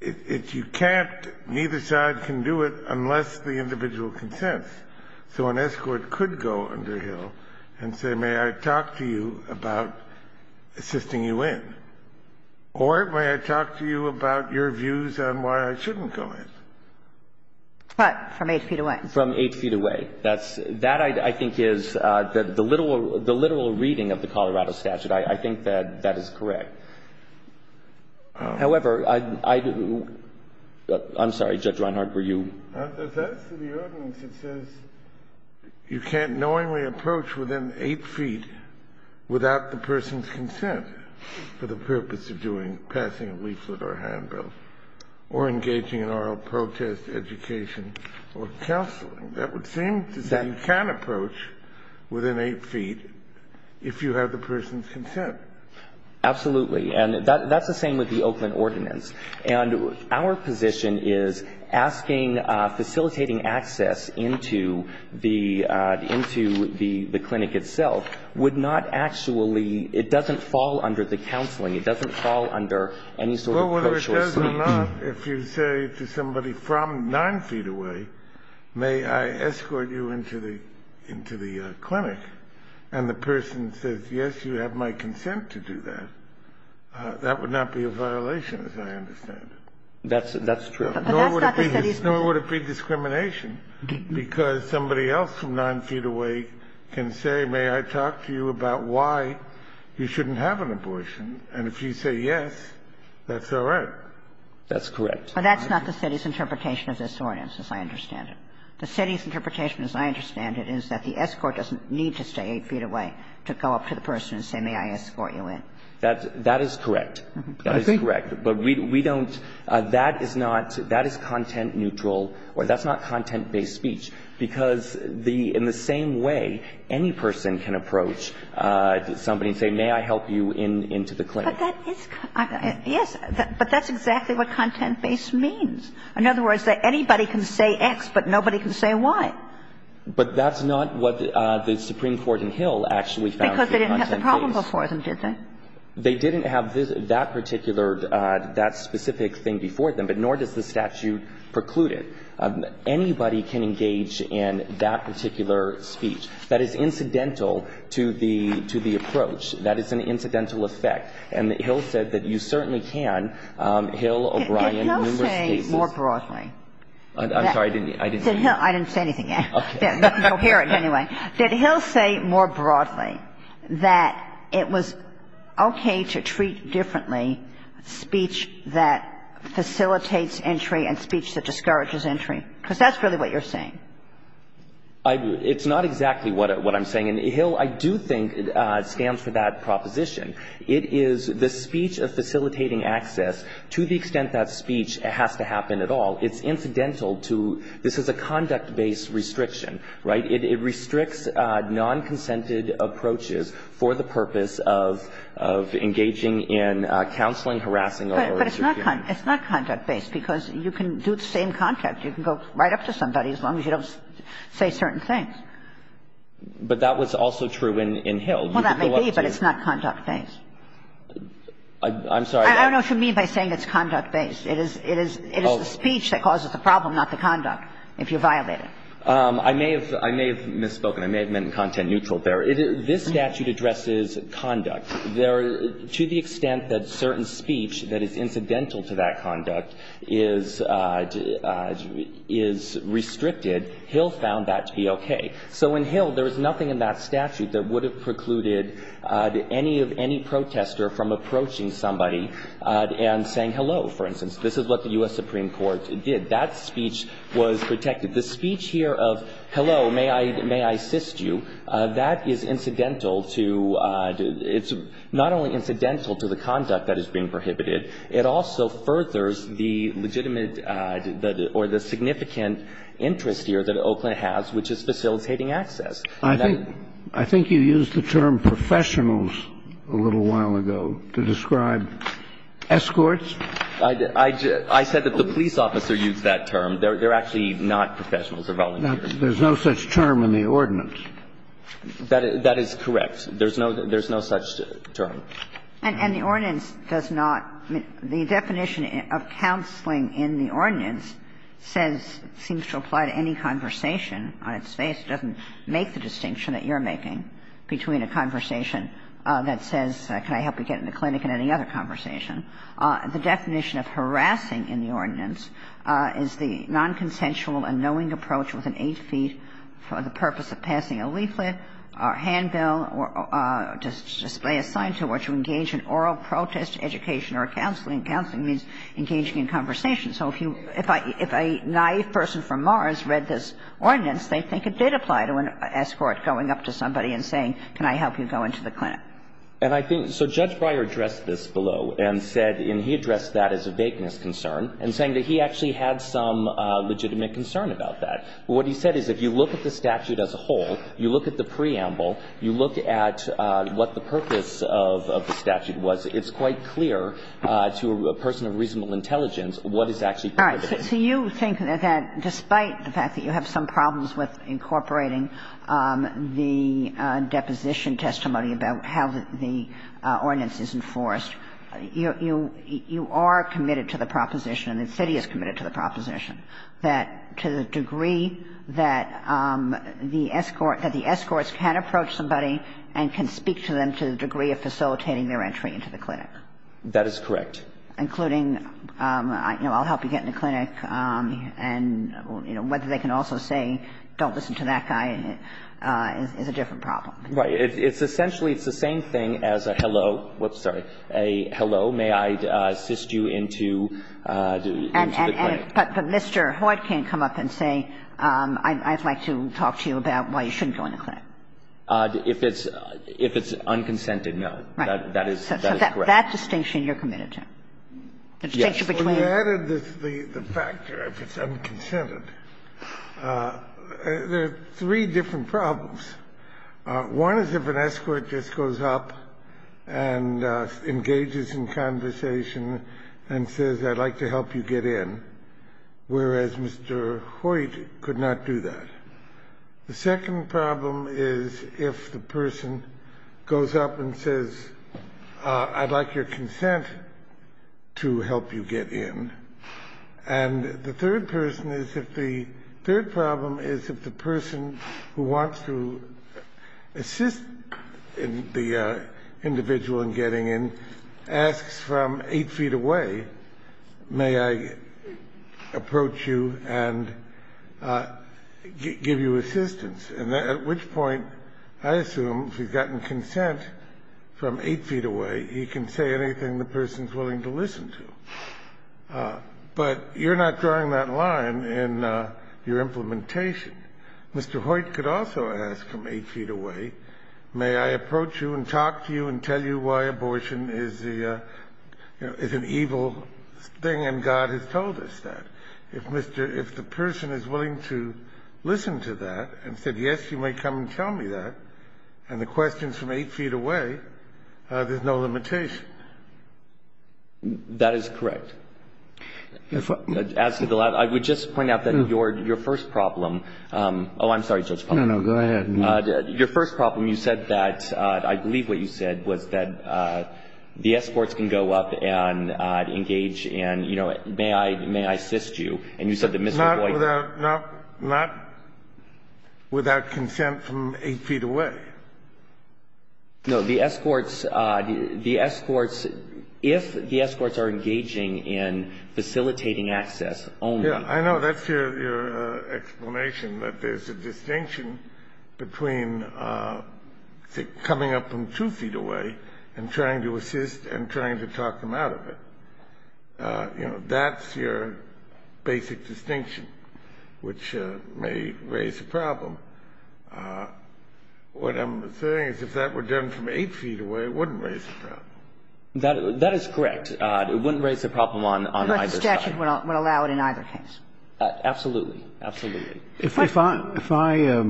if you can't, neither side can do it unless the individual consents. So an escort could go under Hill and say, may I talk to you about assisting you in, or may I talk to you about your views on why I shouldn't go in. But from 8 feet away. From 8 feet away. Okay. That's – that, I think, is the literal reading of the Colorado statute. I think that that is correct. However, I – I'm sorry, Judge Reinhart, were you? That's the ordinance. It says you can't knowingly approach within 8 feet without the person's consent for the purpose of doing – passing a leaflet or a handbill, or engaging in oral protest, education, or counseling. That would seem to say you can approach within 8 feet if you have the person's consent. Absolutely. And that's the same with the Oakland ordinance. And our position is asking – facilitating access into the – into the clinic itself would not actually – it doesn't fall under the counseling. It doesn't fall under any sort of co-choice. Yes or no, if you say to somebody from 9 feet away, may I escort you into the – into the clinic, and the person says, yes, you have my consent to do that, that would not be a violation, as I understand it. That's – that's true. But that's not the study's view. Nor would it be discrimination, because somebody else from 9 feet away can say, may I talk to you about why you shouldn't have an abortion. And if you say yes, that's all right. That's correct. But that's not the study's interpretation of this ordinance, as I understand it. The study's interpretation, as I understand it, is that the escort doesn't need to stay 8 feet away to go up to the person and say, may I escort you in. That's – that is correct. That is correct. But we don't – that is not – that is content-neutral, or that's not content-based speech, because the – in the same way, any person can approach somebody and say, may I help you into the clinic. But that is – yes. But that's exactly what content-based means. In other words, that anybody can say X, but nobody can say Y. But that's not what the Supreme Court in Hill actually found to be content-based. Because they didn't have the problem before them, did they? They didn't have that particular – that specific thing before them, but nor does the statute preclude it. Anybody can engage in that particular speech. That is incidental to the – to the approach. That is an incidental effect. And Hill said that you certainly can. Hill, O'Brien, numerous cases. Did Hill say more broadly? I'm sorry. I didn't hear you. I didn't say anything yet. Okay. Coherent, anyway. Did Hill say more broadly that it was okay to treat differently speech that facilitates entry and speech that discourages entry? Because that's really what you're saying. It's not exactly what I'm saying. And Hill, I do think, stands for that proposition. It is the speech of facilitating access to the extent that speech has to happen at all. It's incidental to – this is a conduct-based restriction, right? It restricts nonconsented approaches for the purpose of engaging in counseling, harassing, or interfering. But it's not – it's not conduct-based because you can do the same contact. You can go right up to somebody as long as you don't say certain things. But that was also true in Hill. Well, that may be, but it's not conduct-based. I'm sorry. I don't know what you mean by saying it's conduct-based. It is the speech that causes the problem, not the conduct, if you violate it. I may have – I may have misspoken. I may have meant content-neutral there. This statute addresses conduct. To the extent that certain speech that is incidental to that conduct is restricted, Hill found that to be okay. So in Hill, there is nothing in that statute that would have precluded any of – any protester from approaching somebody and saying hello, for instance. This is what the U.S. Supreme Court did. That speech was protected. The speech here of hello, may I assist you, that is incidental to – it's not only incidental to the conduct that is being prohibited, it also furthers the legitimate or the significant interest here that Oakland has, which is facilitating access. I think you used the term professionals a little while ago to describe escorts. I said that the police officer used that term. They're actually not professionals. They're volunteers. There's no such term in the ordinance. That is correct. There's no such term. And the ordinance does not – the definition of counseling in the ordinance says – seems to apply to any conversation on its face. It doesn't make the distinction that you're making between a conversation that says, can I help you get in the clinic, and any other conversation. The definition of harassing in the ordinance is the nonconsensual and knowing approach with an eight-feet for the purpose of passing a leaflet or handbill to display a sign to which you engage in oral protest, education or counseling. Counseling means engaging in conversation. So if you – if a naïve person from Mars read this ordinance, they'd think it did apply to an escort going up to somebody and saying, can I help you go into the clinic. And I think – so Judge Breyer addressed this below and said – and he addressed that as a vagueness concern and saying that he actually had some legitimate concern about that. But what he said is if you look at the statute as a whole, you look at the preamble, you look at what the purpose of the statute was, it's quite clear to a person of reasonable intelligence what is actually prohibited. All right. So you think that despite the fact that you have some problems with incorporating the deposition testimony about how the ordinance is enforced, you – you are committed to the proposition and the city is committed to the proposition that to the degree that the escort – that the escorts can approach somebody and can speak to them to the degree of facilitating their entry into the clinic. That is correct. Including, you know, I'll help you get in the clinic and, you know, whether they can also say don't listen to that guy is a different problem. Right. It's essentially – it's the same thing as a hello – whoops, sorry – a hello, may I assist you into the clinic. But Mr. Hoyt can't come up and say I'd like to talk to you about why you shouldn't go in the clinic. If it's – if it's unconsented, no. Right. That is correct. So that distinction you're committed to? Yes. The distinction between – Well, you added the factor if it's unconsented. There are three different problems. One is if an escort just goes up and engages in conversation and says I'd like to help you get in, whereas Mr. Hoyt could not do that. The second problem is if the person goes up and says I'd like your consent to help you get in. And the third person is if the – third problem is if the person who wants to assist the individual in getting in asks from eight feet away may I approach you and give you assistance, at which point I assume if he's gotten consent from eight feet away he can say anything the But you're not drawing that line in your implementation. Mr. Hoyt could also ask from eight feet away may I approach you and talk to you and tell you why abortion is the – is an evil thing and God has told us that. If Mr. – if the person is willing to listen to that and said yes, you may come and tell me that, and the question's from eight feet away, there's no limitation. That is correct. As to the last – I would just point out that your first problem – oh, I'm sorry, Judge Palmer. No, no, go ahead. Your first problem, you said that – I believe what you said was that the escorts can go up and engage and, you know, may I assist you. And you said that Mr. Hoyt Not without – not without consent from eight feet away. No, the escorts – the escorts – if the escorts are engaging in facilitating access only. Yeah, I know. That's your explanation, that there's a distinction between coming up from two feet away and trying to assist and trying to talk them out of it. You know, that's your basic distinction, which may raise a problem. What I'm saying is if that were done from eight feet away, it wouldn't raise a problem. That is correct. It wouldn't raise a problem on either side. But the statute would allow it in either case. Absolutely. Absolutely. If I – if I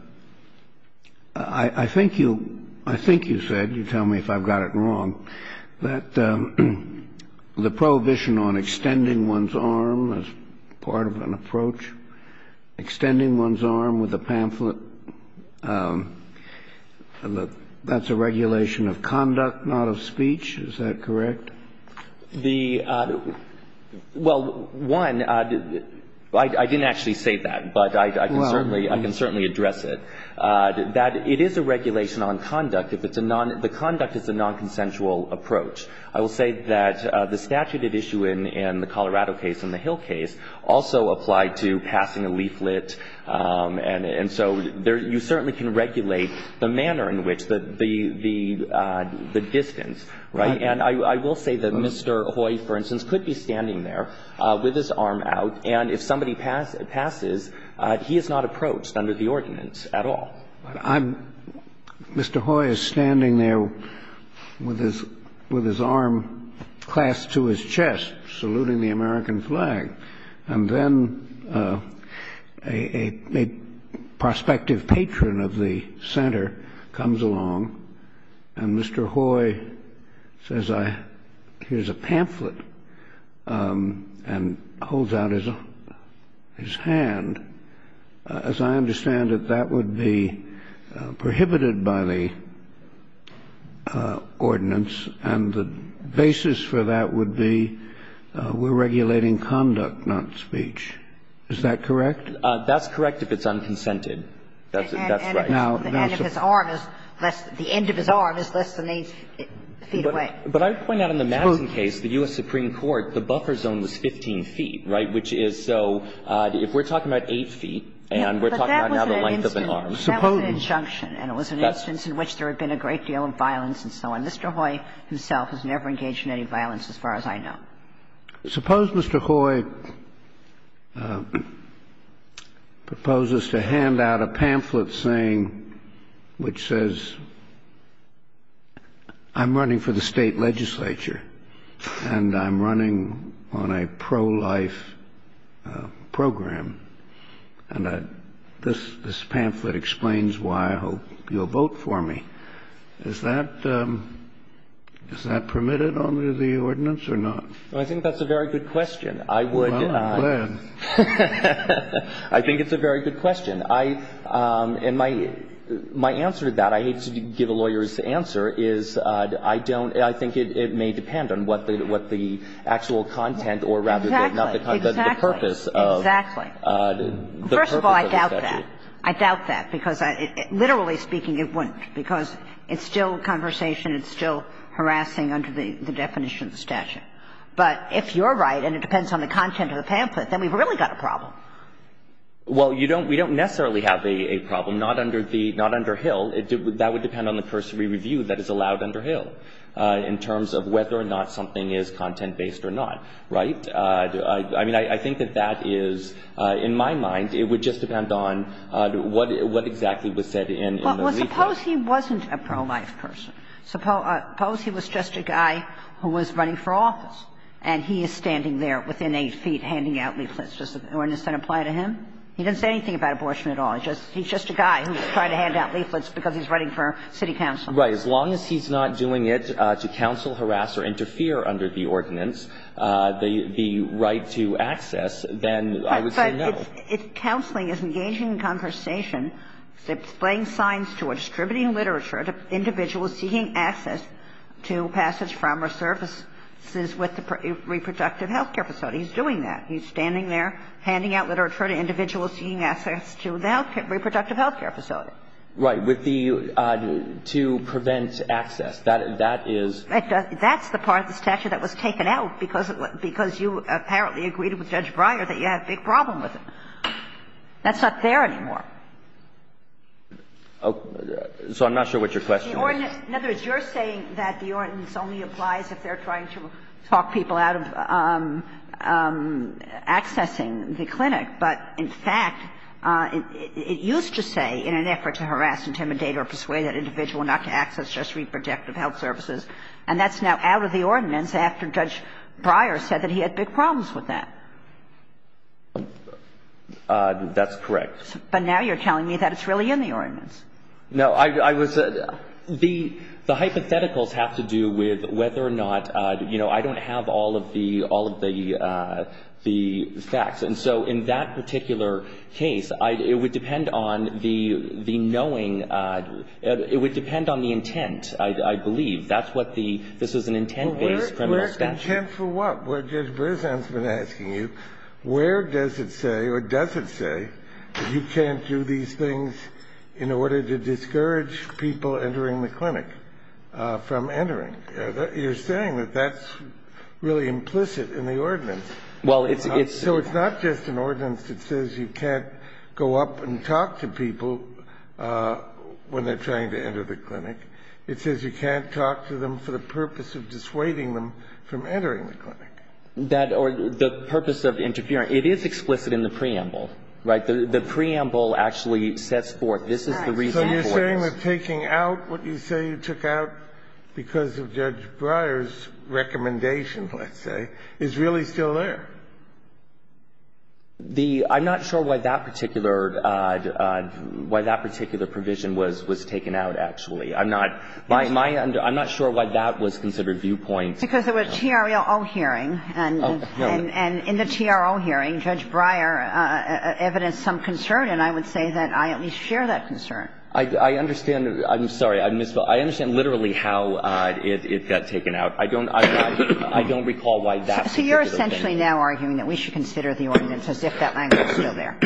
– I think you – I think you said – you tell me if I've got it wrong that the prohibition on extending one's arm as part of an approach, extending one's arm with a pamphlet, that's a regulation of conduct, not of speech. Is that correct? The – well, one, I didn't actually say that, but I can certainly – I can certainly address it. That it is a regulation on conduct if it's a non – the conduct is a non-consensual approach. I will say that the statute at issue in the Colorado case and the Hill case also applied to passing a leaflet. And so there – you certainly can regulate the manner in which the distance, right? And I will say that Mr. Hoy, for instance, could be standing there with his arm out, and if somebody passes, he is not approached under the ordinance at all. But I'm – Mr. Hoy is standing there with his – with his arm clasped to his chest saluting the American flag. And then a prospective patron of the center comes along and Mr. Hoy says, I – here's a pamphlet, and holds out his hand. And as I understand it, that would be prohibited by the ordinance, and the basis for that would be we're regulating conduct, not speech. Is that correct? That's correct if it's unconsented. That's right. And if his arm is less – the end of his arm is less than eight feet away. But I point out in the Madison case, the U.S. Supreme Court, the buffer zone was 15 feet, right? Which is so – if we're talking about eight feet, and we're talking about now the length of an arm. But that was an – that was an injunction. And it was an instance in which there had been a great deal of violence and so on. Mr. Hoy himself has never engaged in any violence as far as I know. Suppose Mr. Hoy proposes to hand out a pamphlet saying, which says, I'm running for the state legislature, and I'm running on a pro-life program. And this pamphlet explains why I hope you'll vote for me. Is that – is that permitted under the ordinance or not? Well, I think that's a very good question. I would not. Well, I'm glad. I think it's a very good question. I – and my answer to that, I hate to give a lawyer's answer, is I don't – I think it may depend on what the actual content or rather the purpose of the statute. Exactly. First of all, I doubt that. I doubt that, because literally speaking, it wouldn't. Because it's still conversation. It's still harassing under the definition of the statute. But if you're right and it depends on the content of the pamphlet, then we've really got a problem. Well, you don't – we don't necessarily have a problem, not under the – not under Hill. That would depend on the person we review that is allowed under Hill in terms of whether or not something is content-based or not. Right? I mean, I think that that is – in my mind, it would just depend on what exactly was said in the leaflet. Well, suppose he wasn't a pro-life person. Suppose he was just a guy who was running for office, and he is standing there within eight feet handing out leaflets. Wouldn't this then apply to him? He didn't say anything about abortion at all. He's just a guy who's trying to hand out leaflets because he's running for city council. Right. As long as he's not doing it to counsel, harass, or interfere under the ordinance, the right to access, then I would say no. But it's – counseling is engaging in conversation. It's displaying signs to a distributing literature to individuals seeking access to passage from or services with the reproductive health care facility. He's doing that. He's standing there handing out literature to individuals seeking access to the reproductive health care facility. Right. With the – to prevent access. That is – That's the part of the statute that was taken out because you apparently agreed with Judge Breyer that you had a big problem with it. That's not there anymore. So I'm not sure what your question is. In other words, you're saying that the ordinance only applies if they're trying to talk people out of accessing the clinic. But in fact, it used to say, in an effort to harass, intimidate, or persuade that individual not to access just reproductive health services, and that's now out of the ordinance after Judge Breyer said that he had big problems with that. That's correct. Now, I was – the hypotheticals have to do with whether or not, you know, I don't have all of the – all of the facts. And so in that particular case, it would depend on the knowing – it would depend on the intent, I believe. That's what the – this is an intent-based criminal statute. Well, where's intent for what? Well, Judge Brezan's been asking you, where does it say or does it say that you can't do these things in order to discourage people entering the clinic from entering? You're saying that that's really implicit in the ordinance. Well, it's – So it's not just an ordinance that says you can't go up and talk to people when they're trying to enter the clinic. It says you can't talk to them for the purpose of dissuading them from entering the clinic. That – or the purpose of interfering – it is explicit in the preamble, right? The preamble actually sets forth this is the reason for this. So you're saying that taking out what you say you took out because of Judge Breyer's recommendation, let's say, is really still there? The – I'm not sure why that particular – why that particular provision was taken out, actually. I'm not – my – I'm not sure why that was considered viewpoint. Because it was a TRO hearing. Oh, no. And in the TRO hearing, Judge Breyer evidenced some concern, and I would say that I at least share that concern. I understand. I'm sorry. I misspoke. I understand literally how it got taken out. I don't – I don't recall why that particular thing. So you're essentially now arguing that we should consider the ordinance as if that language was still there.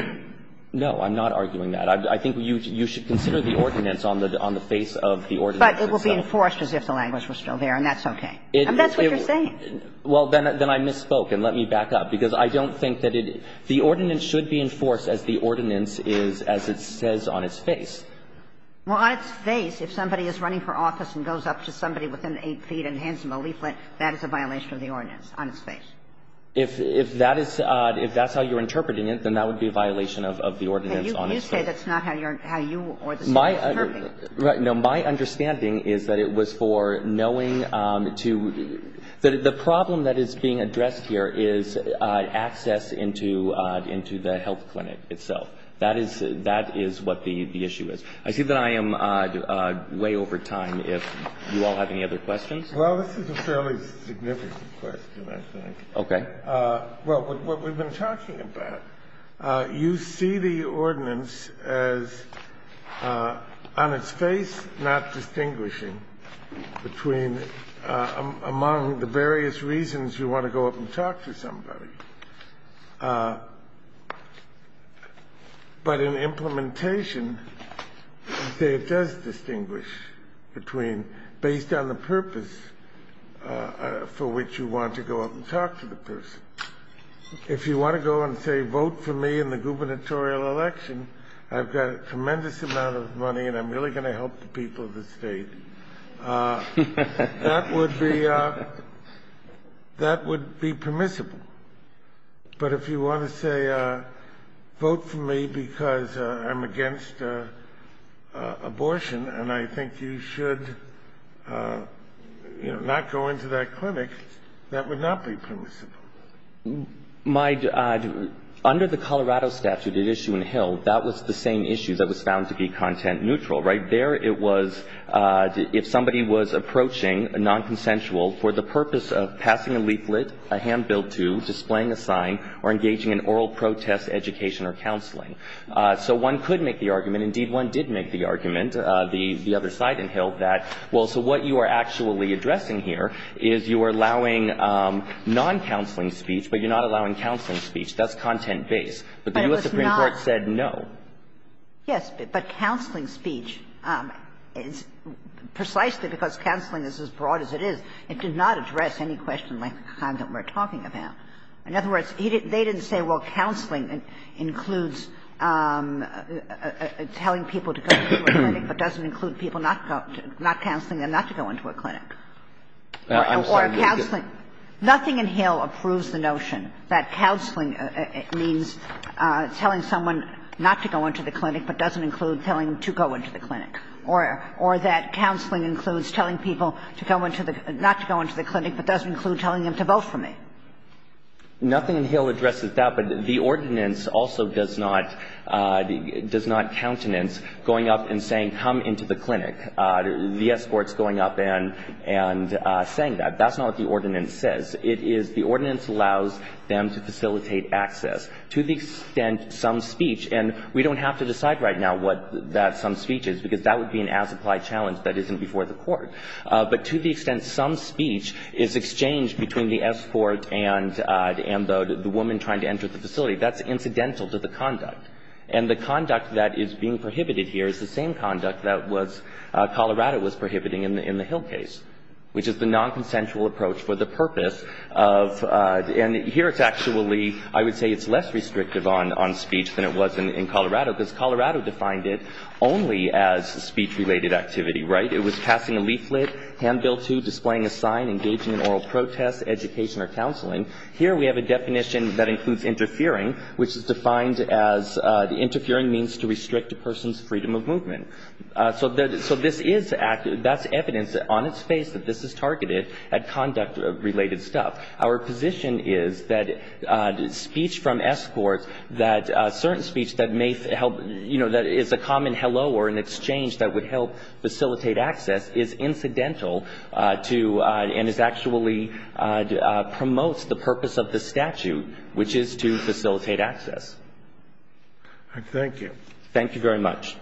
No, I'm not arguing that. I think you should consider the ordinance on the face of the ordinance itself. But it will be enforced as if the language was still there, and that's okay. And that's what you're saying. Well, then I misspoke. And let me back up. Because I don't think that it – the ordinance should be enforced as the ordinance is, as it says on its face. Well, on its face, if somebody is running for office and goes up to somebody within eight feet and hands them a leaflet, that is a violation of the ordinance on its face. If that is – if that's how you're interpreting it, then that would be a violation of the ordinance on its face. You say that's not how you or the State is interpreting it. No, my understanding is that it was for knowing to – that the problem that is being addressed here is access into the health clinic itself. That is what the issue is. I see that I am way over time if you all have any other questions. Well, this is a fairly significant question, I think. Okay. Well, what we've been talking about, you see the ordinance as, on its face, not distinguishing between – among the various reasons you want to go up and talk to somebody. But in implementation, it does distinguish between, based on the purpose for which you want to go up and talk to the person. If you want to go and say, vote for me in the gubernatorial election, I've got a tremendous amount of money and I'm really going to help the people of the State, that would be – that would be permissible. But if you want to say, vote for me because I'm against abortion and I think you should, you know, not go into that clinic, that would not be permissible. My – under the Colorado statute at issue in Hill, that was the same issue that was found to be content neutral, right? There it was – if somebody was approaching a nonconsensual for the purpose of passing a leaflet, a hand built to, displaying a sign, or engaging in oral protest education or counseling. So one could make the argument – indeed, one did make the argument the other side in Hill that, well, so what you are actually addressing here is you are allowing noncounseling speech, but you're not allowing counseling speech. That's content-based. But the U.S. Supreme Court said no. Yes. But counseling speech, precisely because counseling is as broad as it is, it did not address any question like the kind that we're talking about. In other words, they didn't say, well, counseling includes telling people to go to a clinic but doesn't include people not counseling and not to go into a clinic. I'm sorry. Or counseling – nothing in Hill approves the notion that counseling means telling someone not to go into the clinic but doesn't include telling them to go into the clinic. Or that counseling includes telling people to go into the – not to go into the clinic but doesn't include telling them to vote for me. Nothing in Hill addresses that. But the ordinance also does not – does not countenance going up and saying, come into the clinic. The escort's going up and saying that. That's not what the ordinance says. It is – the ordinance allows them to facilitate access. To the extent some speech – and we don't have to decide right now what that some speech is because that would be an as-applied challenge that isn't before the court. But to the extent some speech is exchanged between the escort and the woman trying to enter the facility, that's incidental to the conduct. And the conduct that is being prohibited here is the same conduct that was – Colorado was prohibiting in the Hill case, which is the nonconsensual approach for the purpose of – and here it's actually – I would say it's less restrictive on speech than it was in Colorado because Colorado defined it only as speech-related activity, right? It was passing a leaflet, hand bill too, displaying a sign, engaging in oral protest, education or counseling. Here we have a definition that includes interfering, which is defined as interfering means to restrict a person's freedom of movement. So this is – that's evidence on its face that this is targeted at conduct-related stuff. Our position is that speech from escorts, that certain speech that may help – you know, that is a common hello or an exchange that would help facilitate access is incidental to and is actually – promotes the purpose of the statute, which is to facilitate access. Thank you. Thank you very much.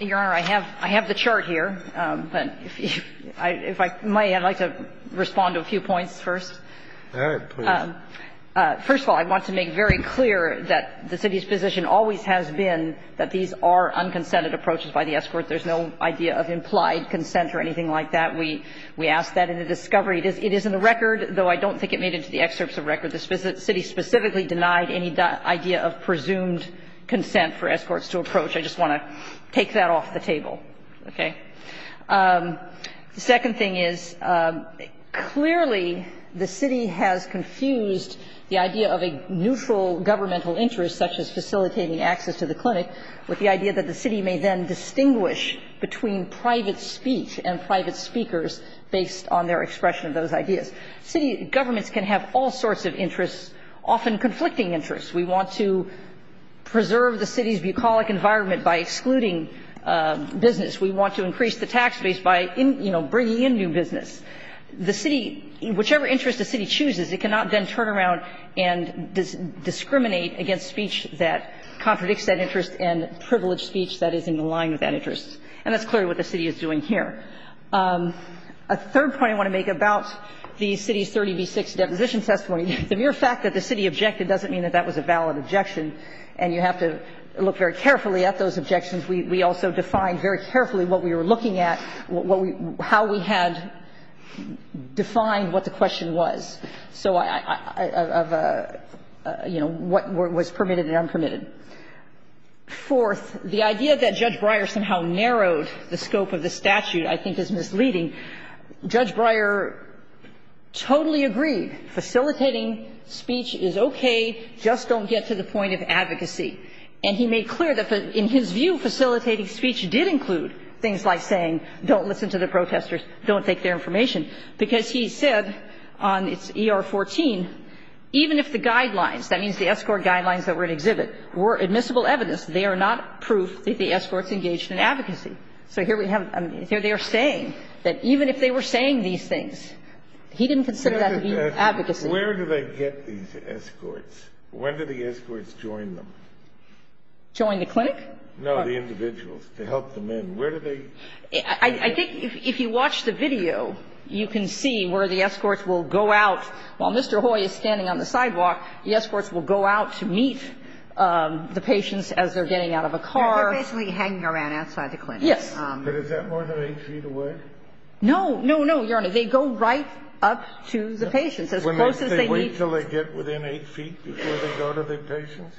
Your Honor, I have – I have the chart here, but if I may, I'd like to respond to a few points first. All right. Please. First of all, I want to make very clear that the city's position always has been that these are unconsented approaches by the escort. There's no idea of implied consent or anything like that. We asked that in the discovery. It is in the record, though I don't think it made it to the excerpts of record. The city specifically denied any idea of presumed consent for escorts to approach. I just want to take that off the table. Okay? The second thing is, clearly, the city has confused the idea of a neutral governmental interest, such as facilitating access to the clinic, with the idea that the city may then distinguish between private speech and private speakers based on their expression of those ideas. City governments can have all sorts of interests, often conflicting interests. We want to preserve the city's bucolic environment by excluding business. We want to increase the tax base by, you know, bringing in new business. The city – whichever interest the city chooses, it cannot then turn around and discriminate against speech that contradicts that interest and privileged speech that is in line with that interest. And that's clearly what the city is doing here. A third point I want to make about the city's 30b-6 deposition testimony, the mere fact that the city objected doesn't mean that that was a valid objection. And you have to look very carefully at those objections. We also defined very carefully what we were looking at, how we had defined what the question was. So, you know, what was permitted and unpermitted. Fourth, the idea that Judge Breyer somehow narrowed the scope of the statute I think is misleading. Judge Breyer totally agreed facilitating speech is okay, just don't get to the point of advocacy. And he made clear that in his view facilitating speech did include things like saying don't listen to the protesters, don't take their information, because he said on its ER-14, even if the guidelines, that means the escort guidelines that were in exhibit, were admissible evidence, they are not proof that the escorts engaged in advocacy. So here we have, here they are saying that even if they were saying these things, he didn't consider that to be advocacy. Where do they get these escorts? When do the escorts join them? Join the clinic? No, the individuals to help them in. Where do they? I think if you watch the video, you can see where the escorts will go out. While Mr. Hoy is standing on the sidewalk, the escorts will go out to meet the patients as they're getting out of a car. They're basically hanging around outside the clinic. Yes. But is that more than 8 feet away? No. No, no, Your Honor. They go right up to the patients as close as they need to. Wait until they get within 8 feet before they go to the patients?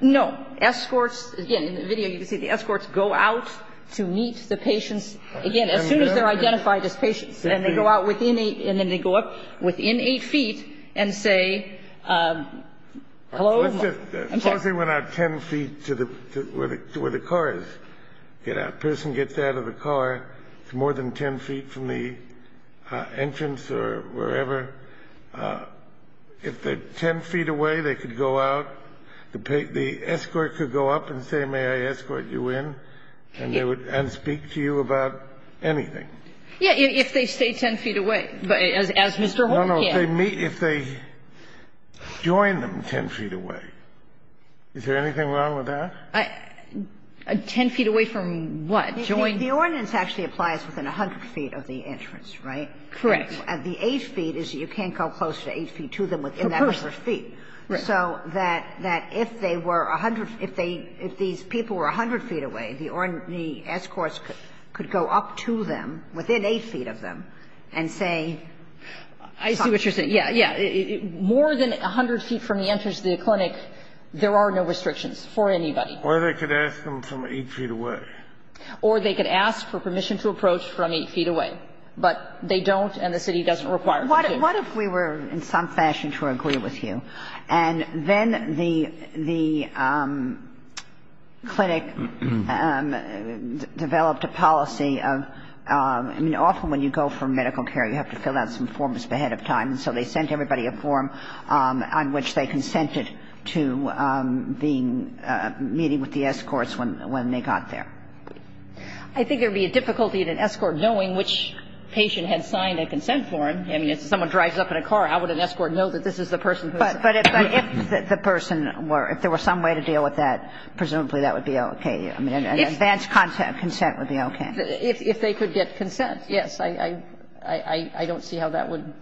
No. Again, in the video you can see the escorts go out to meet the patients, again, as soon as they're identified as patients. And they go out within 8, and then they go up within 8 feet and say, hello. Suppose they went out 10 feet to the, to where the car is. A person gets out of the car. It's more than 10 feet from the entrance or wherever. If they're 10 feet away, they could go out. The escort could go up and say, may I escort you in? And they would speak to you about anything. Yes, if they stay 10 feet away, as Mr. Hoy can. No, no. If they join them 10 feet away. Is there anything wrong with that? 10 feet away from what? Join? The ordinance actually applies within 100 feet of the entrance, right? Correct. And the 8 feet is you can't go close to 8 feet to them within that number of feet. Right. So that if they were 100, if they, if these people were 100 feet away, the escorts could go up to them within 8 feet of them and say. I see what you're saying. Yeah, yeah. More than 100 feet from the entrance to the clinic, there are no restrictions for anybody. Or they could ask them from 8 feet away. Or they could ask for permission to approach from 8 feet away. But they don't, and the city doesn't require it. What if we were in some fashion to agree with you, and then the clinic developed a policy of, I mean, often when you go for medical care, you have to fill out some forms ahead of time. And so they sent everybody a form on which they consented to being, meeting with the escorts when they got there. I think there would be a difficulty in an escort knowing which patient had signed a consent form. I mean, if someone drives up in a car, how would an escort know that this is the person who is? But if the person were, if there were some way to deal with that, presumably that would be okay. I mean, an advanced consent would be okay. If they could get consent, yes. I don't see how that would,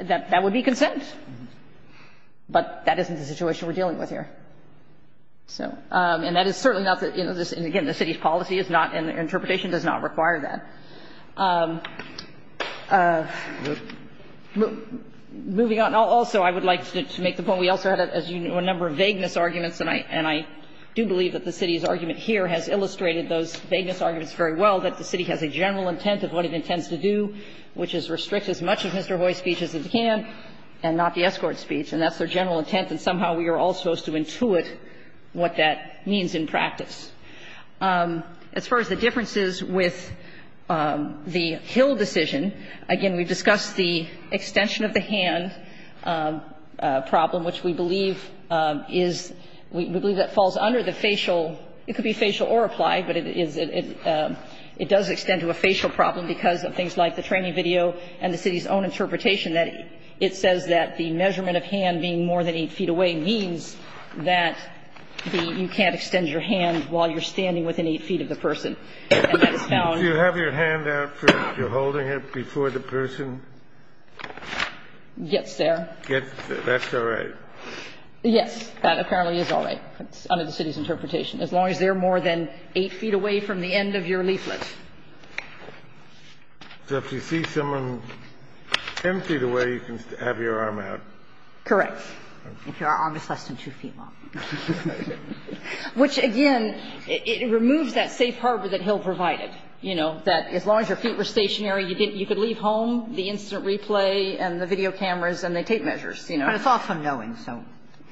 that would be consent. But that isn't the situation we're dealing with here. So, and that is certainly not the, you know, and again, the city's policy is not, and the interpretation does not require that. Moving on, also I would like to make the point we also had, as you know, a number of vagueness arguments. And I do believe that the city's argument here has illustrated those vagueness arguments very well, that the city has a general intent of what it intends to do, which is restrict as much of Mr. Hoy's speech as it can and not the escort speech. And that's their general intent. And somehow we are all supposed to intuit what that means in practice. As far as the differences with the Hill decision, again, we discussed the extension of the hand problem, which we believe is, we believe that falls under the facial – it could be facial or applied, but it is, it does extend to a facial problem because of things like the training video and the city's own interpretation that it says that the measurement of hand being more than 8 feet away means that the – you can't extend your hand while you're standing within 8 feet of the person. And that's found – Kennedy, do you have your hand out for if you're holding it before the person – Gets there. Gets there. That's all right. Yes. That apparently is all right. That's under the city's interpretation, as long as they're more than 8 feet away from the end of your leaflet. So if you see someone 10 feet away, you can have your arm out. Correct. If your arm is less than 2 feet long. Which, again, it removes that safe harbor that Hill provided, you know, that as long as your feet were stationary, you could leave home the instant replay and the video cameras and the tape measures, you know. But it's all from knowing, so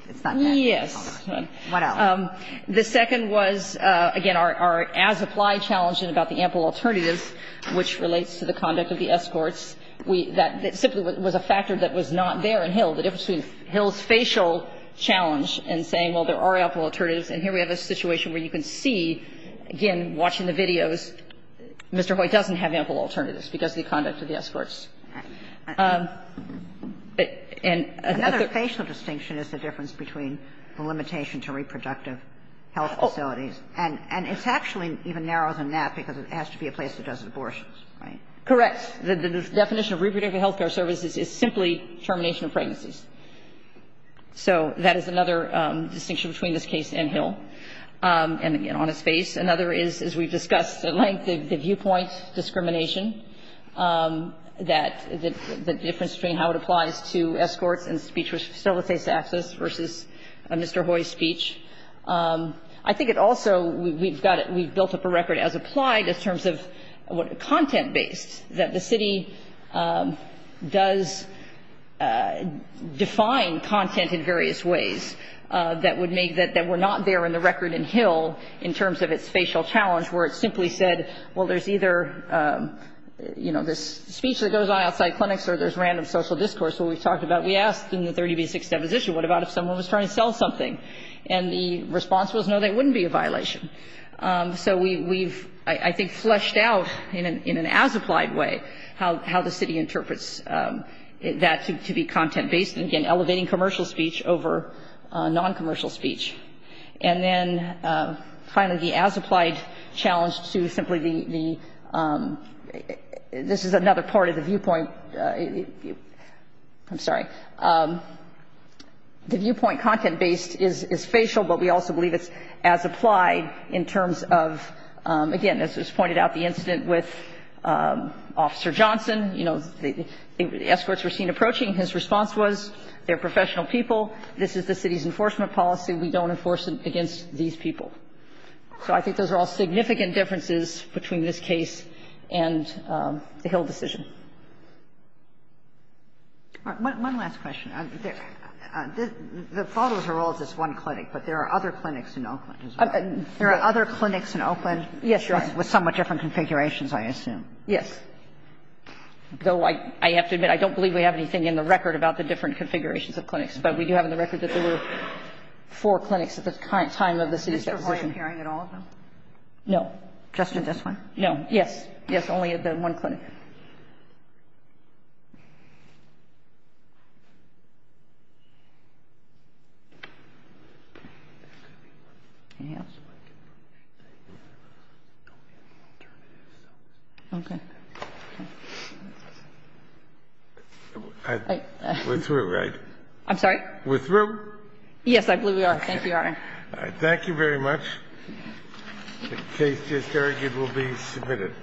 it's not bad. Yes. What else? The second was, again, our as-applied challenge about the ample alternatives, which relates to the conduct of the escorts. We – that simply was a factor that was not there in Hill, the difference between Hill's facial challenge and saying, well, there are ample alternatives, and here we have a situation where you can see, again, watching the videos, Mr. Hoyt doesn't have ample alternatives because of the conduct of the escorts. Another facial distinction is the difference between the limitation to reproductive health facilities, and it's actually even narrower than that because it has to be a place that does abortions, right? Correct. The definition of reproductive health care services is simply termination of pregnancies. So that is another distinction between this case and Hill. And, again, on his face. Another is, as we've discussed at length, the viewpoint discrimination, that the difference between how it applies to escorts and speech with facilitates access versus Mr. Hoyt's speech. I think it also – we've got it – we've built up a record as applied in terms of content-based, that the city does define content in various ways that would make that we're not there in the record in Hill in terms of its facial challenge, where it simply said, well, there's either, you know, this speech that goes on outside clinics or there's random social discourse. What we've talked about, we asked in the 30b6 deposition, what about if someone was trying to sell something? And the response was, no, that wouldn't be a violation. So we've, I think, fleshed out in an as-applied way how the city interprets that to be content-based. And, again, elevating commercial speech over non-commercial speech. And then, finally, the as-applied challenge to simply the – this is another part of the viewpoint – I'm sorry. The viewpoint content-based is facial, but we also believe it's as-applied in terms of, again, as was pointed out, the incident with Officer Johnson. You know, the escorts were seen approaching. His response was, they're professional people. This is the city's enforcement policy. We don't enforce it against these people. So I think those are all significant differences between this case and the Hill decision. All right. One last question. The photos are all of this one clinic, but there are other clinics in Oakland as well. There are other clinics in Oakland. Yes, Your Honor. With somewhat different configurations, I assume. Yes. Though I have to admit, I don't believe we have anything in the record about the different configurations of clinics. But we do have in the record that there were four clinics at the time of the city's deposition. Mr. Hoye appearing at all of them? No. Just in this one? No. Yes. Yes, only at the one clinic. Okay. Okay. We're through, right? I'm sorry? We're through? Yes, I believe we are. Thank you, Your Honor. Thank you very much. The case just argued will be submitted.